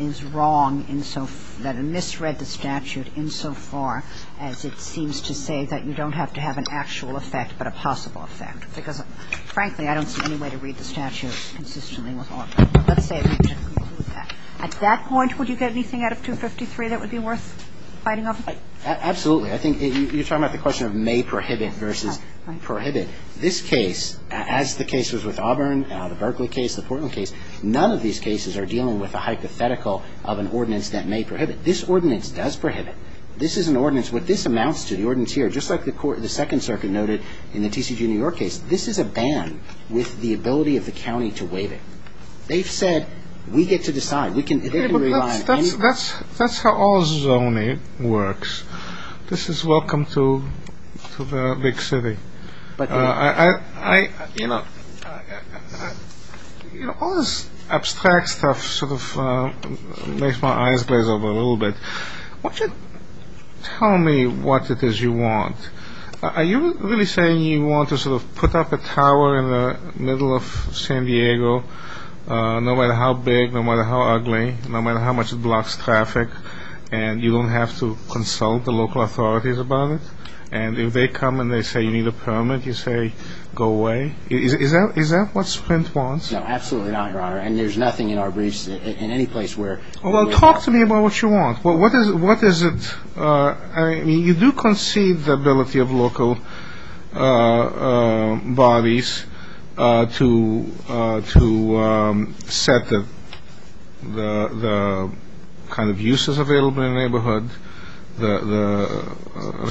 is wrong in so ñ that it misread the statute insofar as it seems to say that you don't have to have an actual effect but a possible effect. Because, frankly, I don't see any way to read the statute consistently with Auburn. At that point, would you get anything out of 253 that would be worth fighting over? Absolutely. I think you're talking about the question of may prohibit versus prohibit. This case, as the case was with Auburn, the Berkeley case, the Portland case, none of these cases are dealing with a hypothetical of an ordinance that may prohibit. This ordinance does prohibit. This is an ordinance ñ what this amounts to, the ordinance here, just like the Second Circuit noted in the TCG New York case, this is a ban with the ability of the county to waive it. They've said, we get to decide. We can ñ they can rely on anyone. That's how all zoning works. This is welcome to the big city. But, you know, all this abstract stuff sort of makes my eyes glaze over a little bit. Why don't you tell me what it is you want. Are you really saying you want to sort of put up a tower in the middle of San Diego, no matter how big, no matter how ugly, no matter how much it blocks traffic, and you don't have to consult the local authorities about it? And if they come and they say you need a permit, you say go away? Is that what Sprint wants? No, absolutely not, Your Honor, and there's nothing in our briefs in any place where Well, talk to me about what you want. What is it? I mean, you do concede the ability of local bodies to set the kind of uses available in a neighborhood,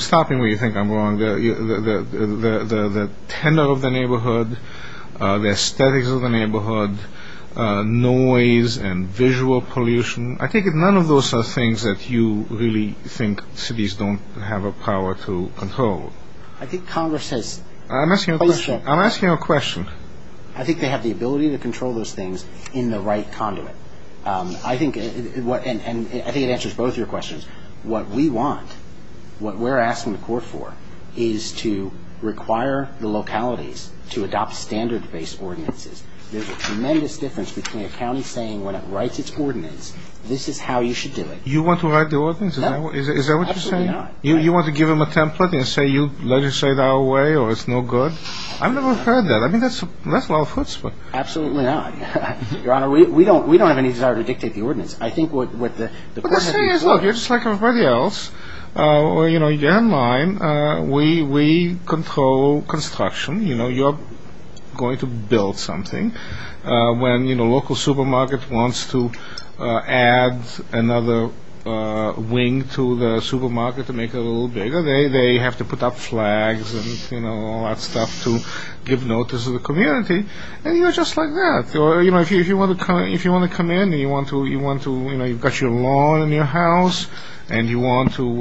stopping where you think I'm wrong, the tenor of the neighborhood, the aesthetics of the neighborhood, noise and visual pollution. I take it none of those are things that you really think cities don't have a power to control. I think Congress has I'm asking a question. I think they have the ability to control those things in the right conduit. I think it answers both your questions. What we want, what we're asking the court for, is to require the localities to adopt standard-based ordinances. There's a tremendous difference between a county saying when it writes its ordinance, this is how you should do it. You want to write the ordinance? No. Is that what you're saying? Absolutely not. You want to give them a template and say you legislate our way or it's no good? I've never heard that. I mean, that's a lot of hoots, but Absolutely not. Your Honor, we don't have any desire to dictate the ordinance. I think what the court has to do is You're just like everybody else. You're in line. We control construction. You're going to build something. When a local supermarket wants to add another wing to the supermarket to make it a little bigger, they have to put up flags and all that stuff to give notice to the community. And you're just like that. If you want to come in and you've got your lawn in your house and you want to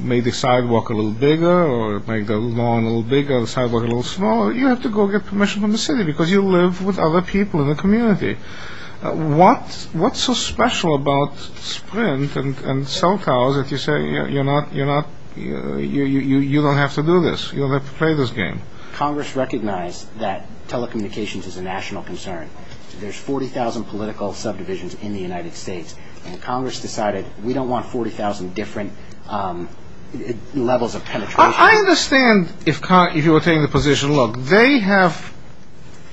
make the sidewalk a little bigger or make the lawn a little bigger or the sidewalk a little smaller, you have to go get permission from the city because you live with other people in the community. What's so special about Sprint and cell towers that you say you don't have to do this? You don't have to play this game? Congress recognized that telecommunications is a national concern. There's 40,000 political subdivisions in the United States, and Congress decided we don't want 40,000 different levels of penetration. I understand if you were taking the position. Look, they have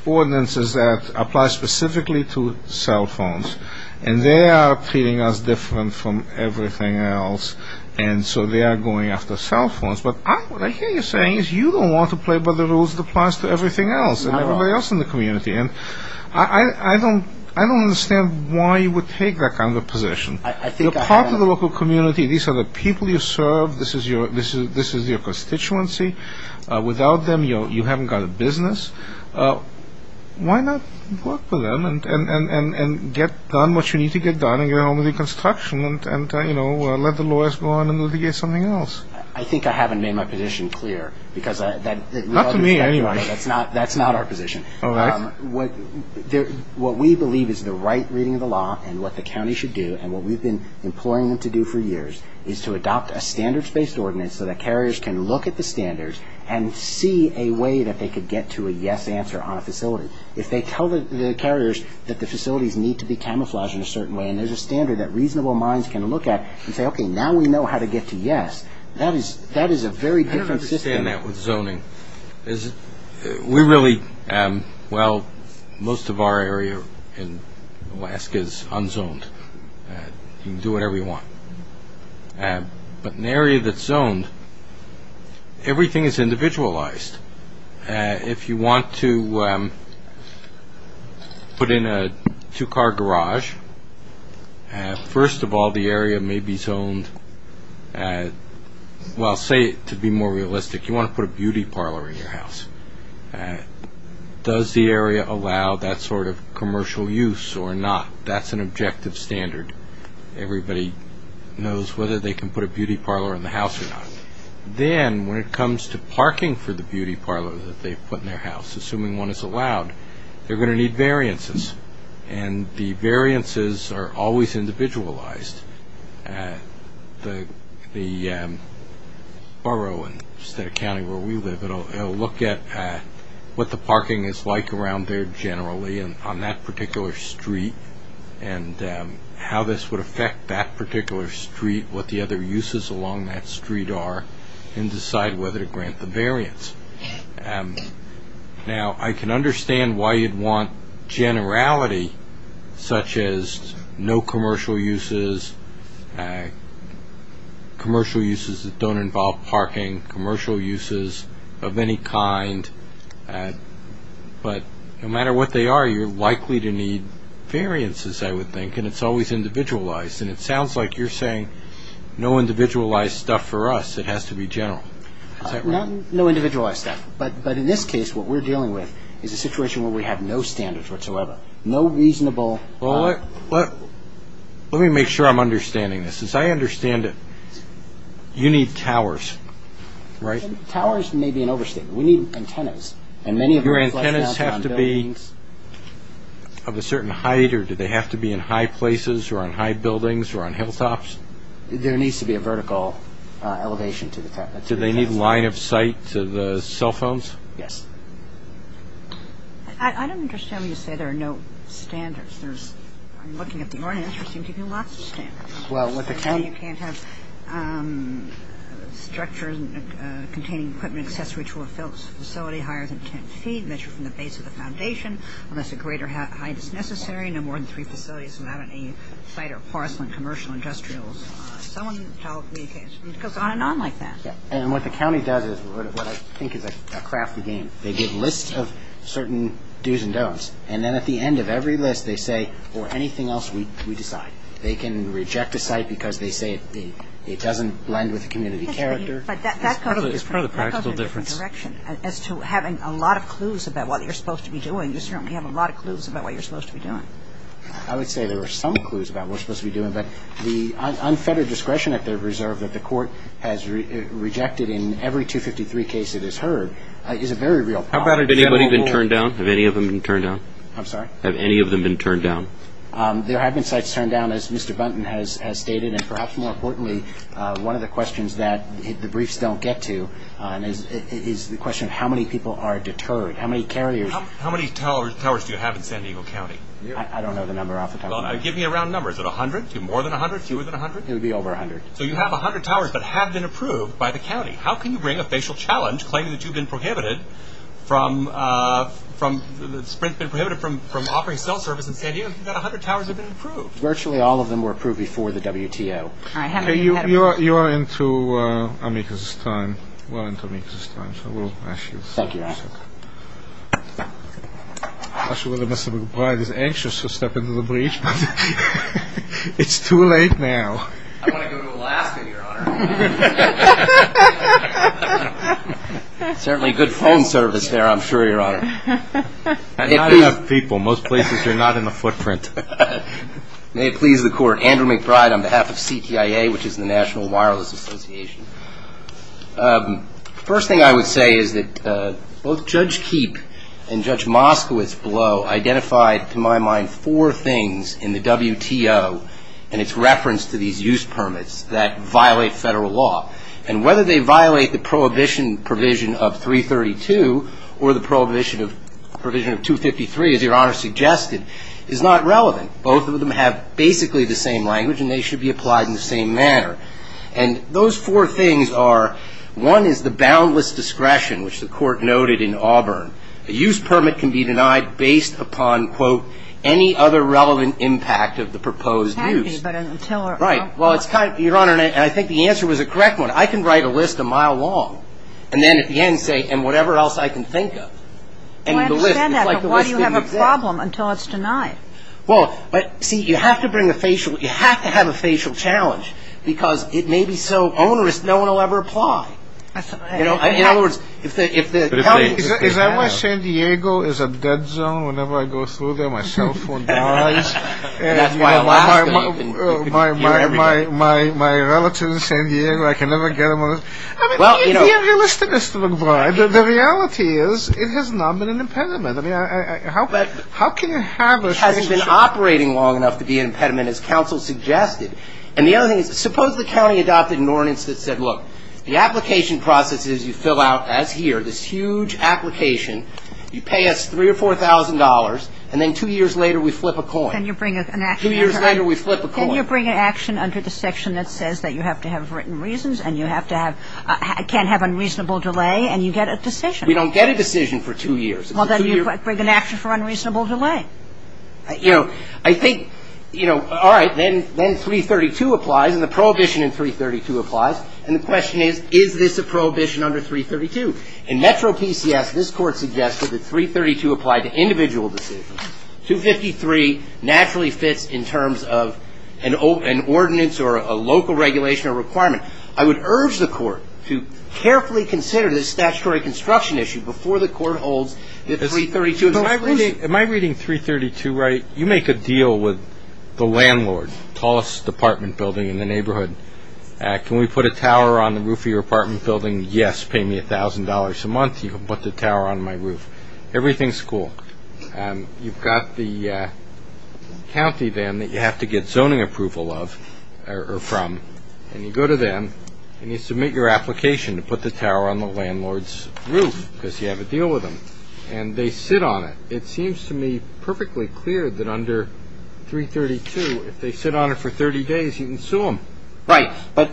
ordinances that apply specifically to cell phones, and they are treating us different from everything else, and so they are going after cell phones. But what I hear you saying is you don't want to play by the rules that applies to everything else and everybody else in the community. And I don't understand why you would take that kind of a position. You're part of the local community. These are the people you serve. This is your constituency. Without them, you haven't got a business. Why not work for them and get done what you need to get done and go home with your construction and let the lawyers go on and litigate something else? I think I haven't made my position clear. Not to me, anyway. That's not our position. All right. What we believe is the right reading of the law and what the county should do and what we've been imploring them to do for years is to adopt a standards-based ordinance so that carriers can look at the standards and see a way that they could get to a yes answer on a facility. If they tell the carriers that the facilities need to be camouflaged in a certain way and there's a standard that reasonable minds can look at and say, okay, now we know how to get to yes. That is a very different system. I don't understand that with zoning. We really, well, most of our area in Alaska is unzoned. You can do whatever you want. But an area that's zoned, everything is individualized. If you want to put in a two-car garage, first of all, the area may be zoned. Well, say, to be more realistic, you want to put a beauty parlor in your house. Does the area allow that sort of commercial use or not? That's an objective standard. Everybody knows whether they can put a beauty parlor in the house or not. Then when it comes to parking for the beauty parlor that they put in their house, assuming one is allowed, they're going to need variances, and the variances are always individualized. The borough instead of county where we live, it will look at what the parking is like around there generally on that particular street and how this would affect that particular street, what the other uses along that street are, and decide whether to grant the variance. Now, I can understand why you'd want generality such as no commercial uses, commercial uses that don't involve parking, commercial uses of any kind. But no matter what they are, you're likely to need variances, I would think, and it's always individualized. And it sounds like you're saying no individualized stuff for us. It has to be general. Is that right? No individualized stuff. But in this case, what we're dealing with is a situation where we have no standards whatsoever, no reasonable... Well, let me make sure I'm understanding this. As I understand it, you need towers, right? Towers may be an overstatement. We need antennas. Your antennas have to be of a certain height, or do they have to be in high places or on high buildings or on hilltops? There needs to be a vertical elevation to the top. Do they need line of sight to the cell phones? Yes. I don't understand when you say there are no standards. I'm looking at the ordinance. There seem to be lots of standards. Well, what the county... And what the county does is what I think is a crafty game. They give lists of certain do's and don'ts, and then at the end of every list they say, or anything else, we decide. They can reject a site because they say it doesn't blend with the community character. It's part of the practical difference. As to having a lot of clues about what you're supposed to be doing, you certainly have a lot of clues about what you're supposed to be doing. I would say there are some clues about what you're supposed to be doing, but the unfettered discretion at their reserve that the court has rejected in every 253 case it has heard is a very real problem. How about if anybody's been turned down? Have any of them been turned down? I'm sorry? Have any of them been turned down? There have been sites turned down, as Mr. Buntin has stated, and perhaps more importantly, one of the questions that the briefs don't get to is the question of how many people are deterred, how many carriers... How many towers do you have in San Diego County? I don't know the number off the top of my head. Give me a round number. Is it 100? Is it more than 100? Fewer than 100? It would be over 100. So you have 100 towers that have been approved by the county. How can you bring a facial challenge, claiming that you've been prohibited from... Virtually all of them were approved before the WTO. You are into amicus time, so we'll ask you... Thank you, Your Honor. Mr. McBride is anxious to step into the brief. It's too late now. I want to go to Alaska, Your Honor. Certainly good phone service there, I'm sure, Your Honor. Not enough people. Most places are not in the footprint. May it please the Court. Andrew McBride on behalf of CTIA, which is the National Wireless Association. First thing I would say is that both Judge Keepe and Judge Moskowitz below identified, to my mind, four things in the WTO and its reference to these use permits that violate federal law, and whether they violate the prohibition provision of 332 or the prohibition of 253, as Your Honor suggested, is not relevant. Both of them have basically the same language, and they should be applied in the same manner. And those four things are, one is the boundless discretion, which the Court noted in Auburn. A use permit can be denied based upon, quote, any other relevant impact of the proposed use. Well, it's kind of, Your Honor, and I think the answer was a correct one. I can write a list a mile long, and then at the end say, and whatever else I can think of. Well, I understand that, but why do you have a problem until it's denied? Well, see, you have to bring a facial. You have to have a facial challenge, because it may be so onerous no one will ever apply. In other words, if the county is going to deny it. Is that why San Diego is a dead zone? Whenever I go through there, my cell phone dies? And that's why Alaska, you can hear everything. My relatives in San Diego, I can never get them on this. I mean, be a realist in this, Mr. McBride. The reality is it has not been an impediment. I mean, how can you have a situation? It hasn't been operating long enough to be an impediment, as counsel suggested. And the other thing is, suppose the county adopted an ordinance that said, look, the application process is you fill out, as here, this huge application. You pay us $3,000 or $4,000, and then two years later we flip a coin. Can you bring an action under the section that says that you have to have written reasons and you have to have ‑‑ can't have unreasonable delay, and you get a decision? We don't get a decision for two years. Well, then you bring an action for unreasonable delay. You know, I think, you know, all right, then 332 applies, and the prohibition in 332 applies. And the question is, is this a prohibition under 332? In Metro PCS, this Court suggested that 332 applied to individual decisions. 253 naturally fits in terms of an ordinance or a local regulation or requirement. I would urge the Court to carefully consider this statutory construction issue before the Court holds the 332. Am I reading 332 right? You make a deal with the landlord, tallest apartment building in the neighborhood. Can we put a tower on the roof of your apartment building? Yes, pay me $1,000 a month, you can put the tower on my roof. Everything's cool. You've got the county then that you have to get zoning approval of or from, and you go to them and you submit your application to put the tower on the landlord's roof, because you have a deal with them, and they sit on it. It seems to me perfectly clear that under 332, if they sit on it for 30 days, you can sue them. Right, but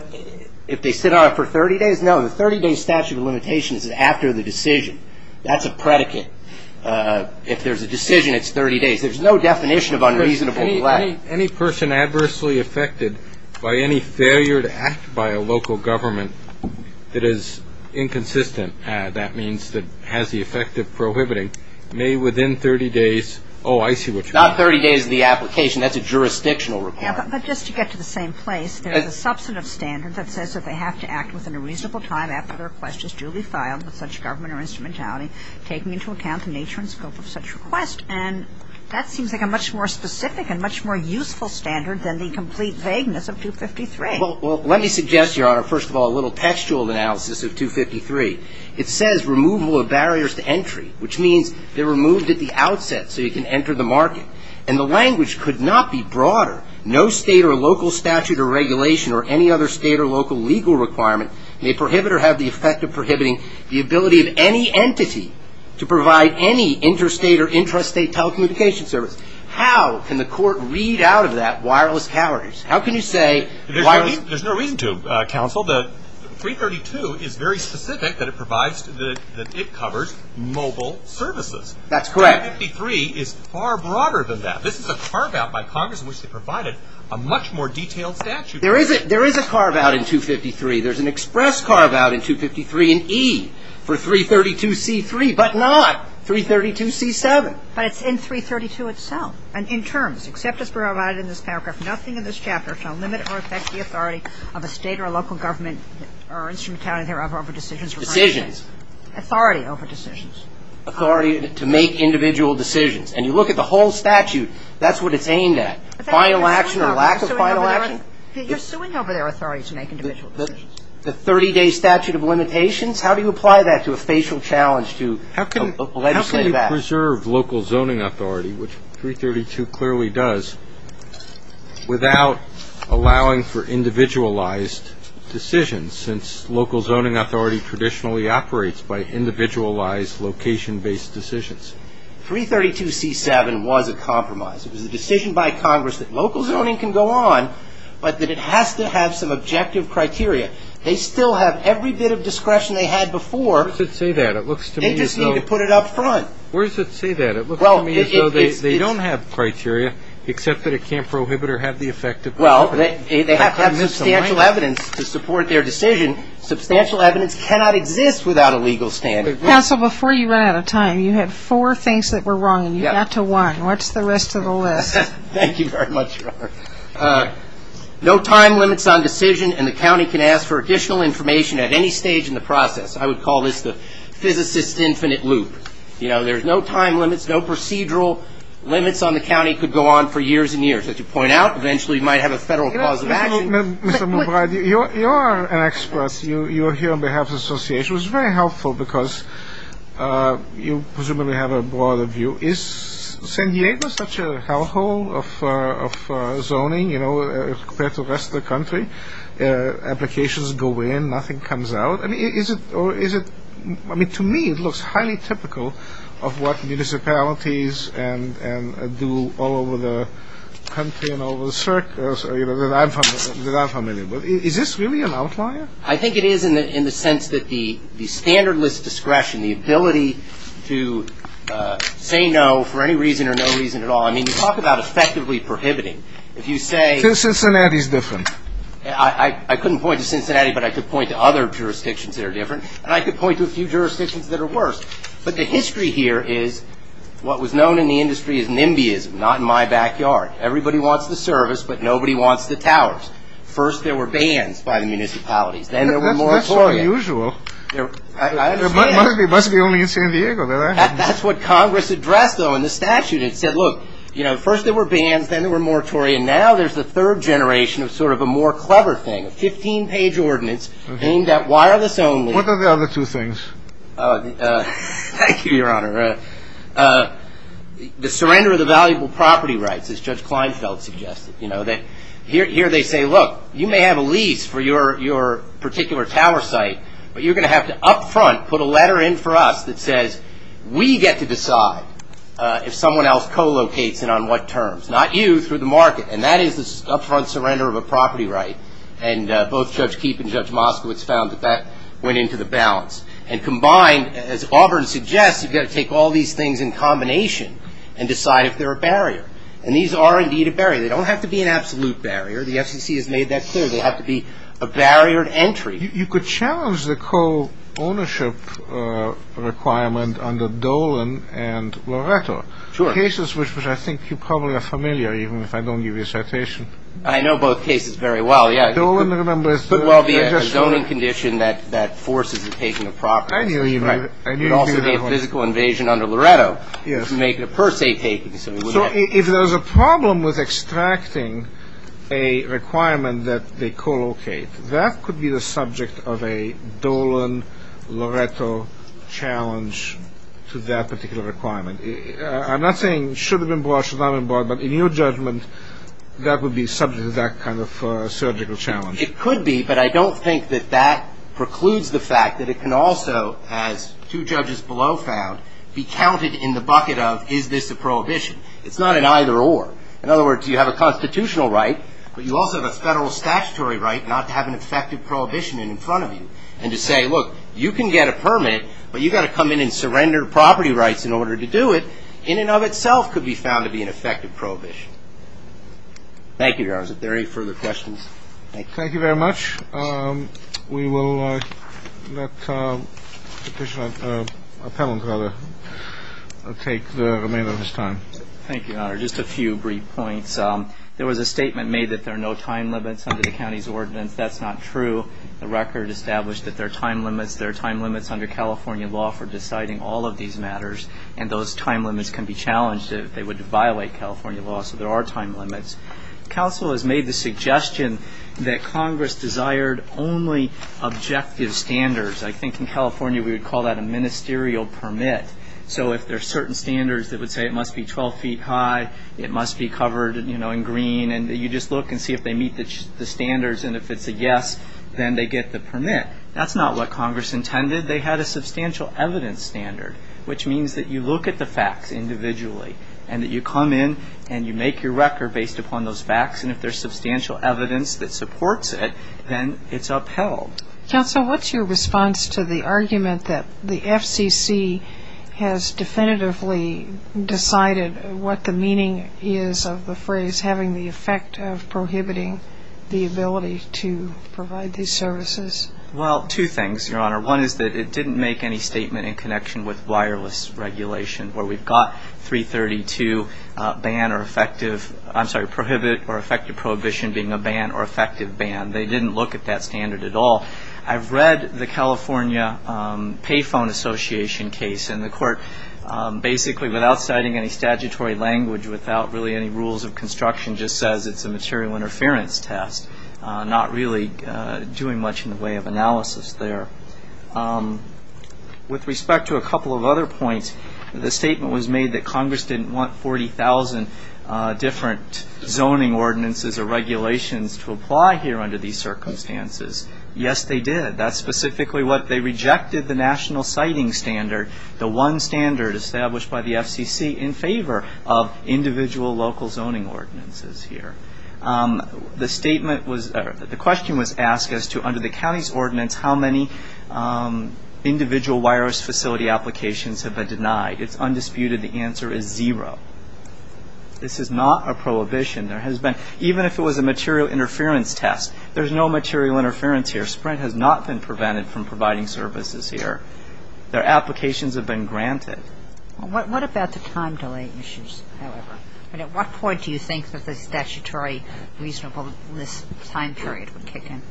if they sit on it for 30 days? No, the 30‑day statute of limitations is after the decision. That's a predicate. If there's a decision, it's 30 days. There's no definition of unreasonable delay. Any person adversely affected by any failure to act by a local government that is inconsistent, that means that has the effect of prohibiting, may within 30 days, oh, I see what you mean. Not 30 days of the application, that's a jurisdictional requirement. But just to get to the same place, there's a substantive standard that says that they have to act within a reasonable time after the request is duly filed with such government or instrumentality, taking into account the nature and scope of such request. And that seems like a much more specific and much more useful standard than the complete vagueness of 253. Well, let me suggest, Your Honor, first of all, a little textual analysis of 253. It says removal of barriers to entry, which means they're removed at the outset so you can enter the market. And the language could not be broader. No state or local statute or regulation or any other state or local legal requirement may prohibit or have the effect of prohibiting the ability of any entity to provide any interstate or intrastate telecommunication service. How can the court read out of that wireless calories? How can you say wireless? There's no reason to, counsel. The 332 is very specific that it provides, that it covers mobile services. That's correct. 253 is far broader than that. This is a carve-out by Congress in which they provided a much more detailed statute. There is a carve-out in 253. There's an express carve-out in 253 in E for 332C3, but not 332C7. But it's in 332 itself. And in terms, except as provided in this paragraph, nothing in this chapter shall limit or affect the authority of a state or local government or instrument county, thereof, over decisions. Decisions. Authority over decisions. Authority to make individual decisions. And you look at the whole statute, that's what it's aimed at. Final action or lack of final action. You're suing over their authority to make individual decisions. The 30-day statute of limitations? How do you apply that to a facial challenge to legislative action? How can you preserve local zoning authority, which 332 clearly does, without allowing for individualized decisions, since local zoning authority traditionally operates by individualized location-based decisions? 332C7 was a compromise. It was a decision by Congress that local zoning can go on, but that it has to have some objective criteria. They still have every bit of discretion they had before. Where does it say that? They just need to put it up front. Where does it say that? It looks to me as though they don't have criteria, except that it can't prohibit or have the effect of prohibiting. Well, they have to have substantial evidence to support their decision. Substantial evidence cannot exist without a legal standard. Counsel, before you ran out of time, you had four things that were wrong, and you got to one. What's the rest of the list? Thank you very much, Robert. No time limits on decision, and the county can ask for additional information at any stage in the process. I would call this the physicist's infinite loop. You know, there's no time limits, no procedural limits on the county could go on for years and years. As you point out, eventually you might have a federal cause of action. Mr. Mubraid, you are an expert. You are here on behalf of the association. This was very helpful because you presumably have a broader view. Is San Diego such a hellhole of zoning, you know, compared to the rest of the country? Applications go in, nothing comes out. I mean, is it or is it to me it looks highly typical of what municipalities and do all over the country and all over the circus, that I'm familiar with. Is this really an outlier? I think it is in the sense that the standard list discretion, the ability to say no for any reason or no reason at all. I mean, you talk about effectively prohibiting. If you say. Cincinnati is different. I couldn't point to Cincinnati, but I could point to other jurisdictions that are different, and I could point to a few jurisdictions that are worse. But the history here is what was known in the industry as NIMBYism, not in my backyard. Everybody wants the service, but nobody wants the towers. First, there were bans by the municipalities. Then there were moratoriums. That's unusual. I understand. It must be only in San Diego. That's what Congress addressed, though, in the statute. It said, look, you know, first there were bans, then there were moratoriums. Now there's the third generation of sort of a more clever thing, a 15-page ordinance aimed at wireless only. What are the other two things? Thank you, Your Honor. The surrender of the valuable property rights, as Judge Kleinfeld suggested. Here they say, look, you may have a lease for your particular tower site, but you're going to have to up front put a letter in for us that says we get to decide if someone else co-locates and on what terms, not you, through the market. And that is the up front surrender of a property right. And both Judge Keefe and Judge Moskowitz found that that went into the balance. And combined, as Auburn suggests, you've got to take all these things in combination and decide if they're a barrier. And these are indeed a barrier. They don't have to be an absolute barrier. The FCC has made that clear. They'll have to be a barrier to entry. You could challenge the co-ownership requirement under Dolan and Loretto. Sure. Cases which I think you probably are familiar, even if I don't give you a citation. I know both cases very well, yeah. Dolan, remember, is a zoning condition that forces the taking of properties. I knew you knew that one. It would also be a physical invasion under Loretto to make it a per se taking. So if there's a problem with extracting a requirement that they co-locate, that could be the subject of a Dolan-Loretto challenge to that particular requirement. I'm not saying should have been brought, should not have been brought, but in your judgment that would be subject to that kind of surgical challenge. It could be, but I don't think that that precludes the fact that it can also, as two judges below found, be counted in the bucket of is this a prohibition. It's not an either or. In other words, you have a constitutional right, but you also have a federal statutory right not to have an effective prohibition in front of you. And to say, look, you can get a permit, but you've got to come in and surrender property rights in order to do it, in and of itself could be found to be an effective prohibition. Thank you, Your Honors. If there are any further questions, thank you. Thank you very much. We will let Petitioner Penland take the remainder of his time. Thank you, Your Honor. Just a few brief points. There was a statement made that there are no time limits under the county's ordinance. That's not true. The record established that there are time limits. There are time limits under California law for deciding all of these matters, and those time limits can be challenged if they would violate California law. So there are time limits. Counsel has made the suggestion that Congress desired only objective standards. I think in California we would call that a ministerial permit. So if there are certain standards that would say it must be 12 feet high, it must be covered, you know, in green, and you just look and see if they meet the standards, and if it's a yes, then they get the permit. That's not what Congress intended. They had a substantial evidence standard, which means that you look at the facts individually and that you come in and you make your record based upon those facts, and if there's substantial evidence that supports it, then it's upheld. Counsel, what's your response to the argument that the FCC has definitively decided what the meaning is of the phrase, having the effect of prohibiting the ability to provide these services? Well, two things, Your Honor. One is that it didn't make any statement in connection with wireless regulation, where we've got 332 prohibit or effective prohibition being a ban or effective ban. They didn't look at that standard at all. I've read the California Payphone Association case, and the court basically without citing any statutory language, without really any rules of construction, just says it's a material interference test, not really doing much in the way of analysis there. With respect to a couple of other points, the statement was made that Congress didn't want 40,000 different zoning ordinances or regulations to apply here under these circumstances. Yes, they did. That's specifically what they rejected, the national citing standard, the one standard established by the FCC in favor of individual local zoning ordinances here. The question was asked as to under the county's ordinance, how many individual wireless facility applications have been denied? It's undisputed the answer is zero. This is not a prohibition. Even if it was a material interference test, there's no material interference here. Sprint has not been prevented from providing services here. Their applications have been granted. What about the time delay issues, however? At what point do you think that the statutory reasonableness time period would kick in?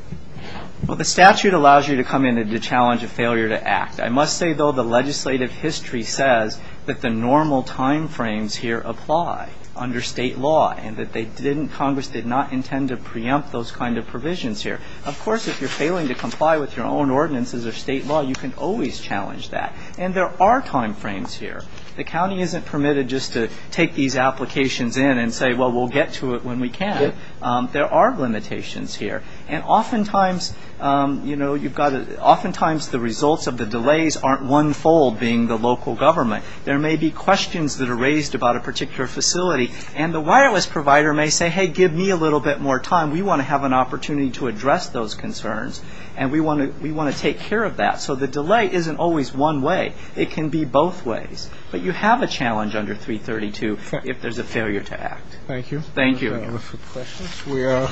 Well, the statute allows you to come in and to challenge a failure to act. I must say, though, the legislative history says that the normal time frames here apply under state law and that Congress did not intend to preempt those kind of provisions here. Of course, if you're failing to comply with your own ordinances or state law, you can always challenge that. And there are time frames here. The county isn't permitted just to take these applications in and say, well, we'll get to it when we can. There are limitations here. And oftentimes the results of the delays aren't one-fold being the local government. There may be questions that are raised about a particular facility, and the wireless provider may say, hey, give me a little bit more time. We want to have an opportunity to address those concerns, and we want to take care of that. So the delay isn't always one way. It can be both ways. But you have a challenge under 332 if there's a failure to act. Thank you. Thank you. If there are no further questions, we will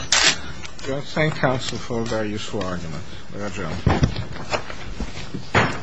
thank counsel for a very useful argument. Thank you.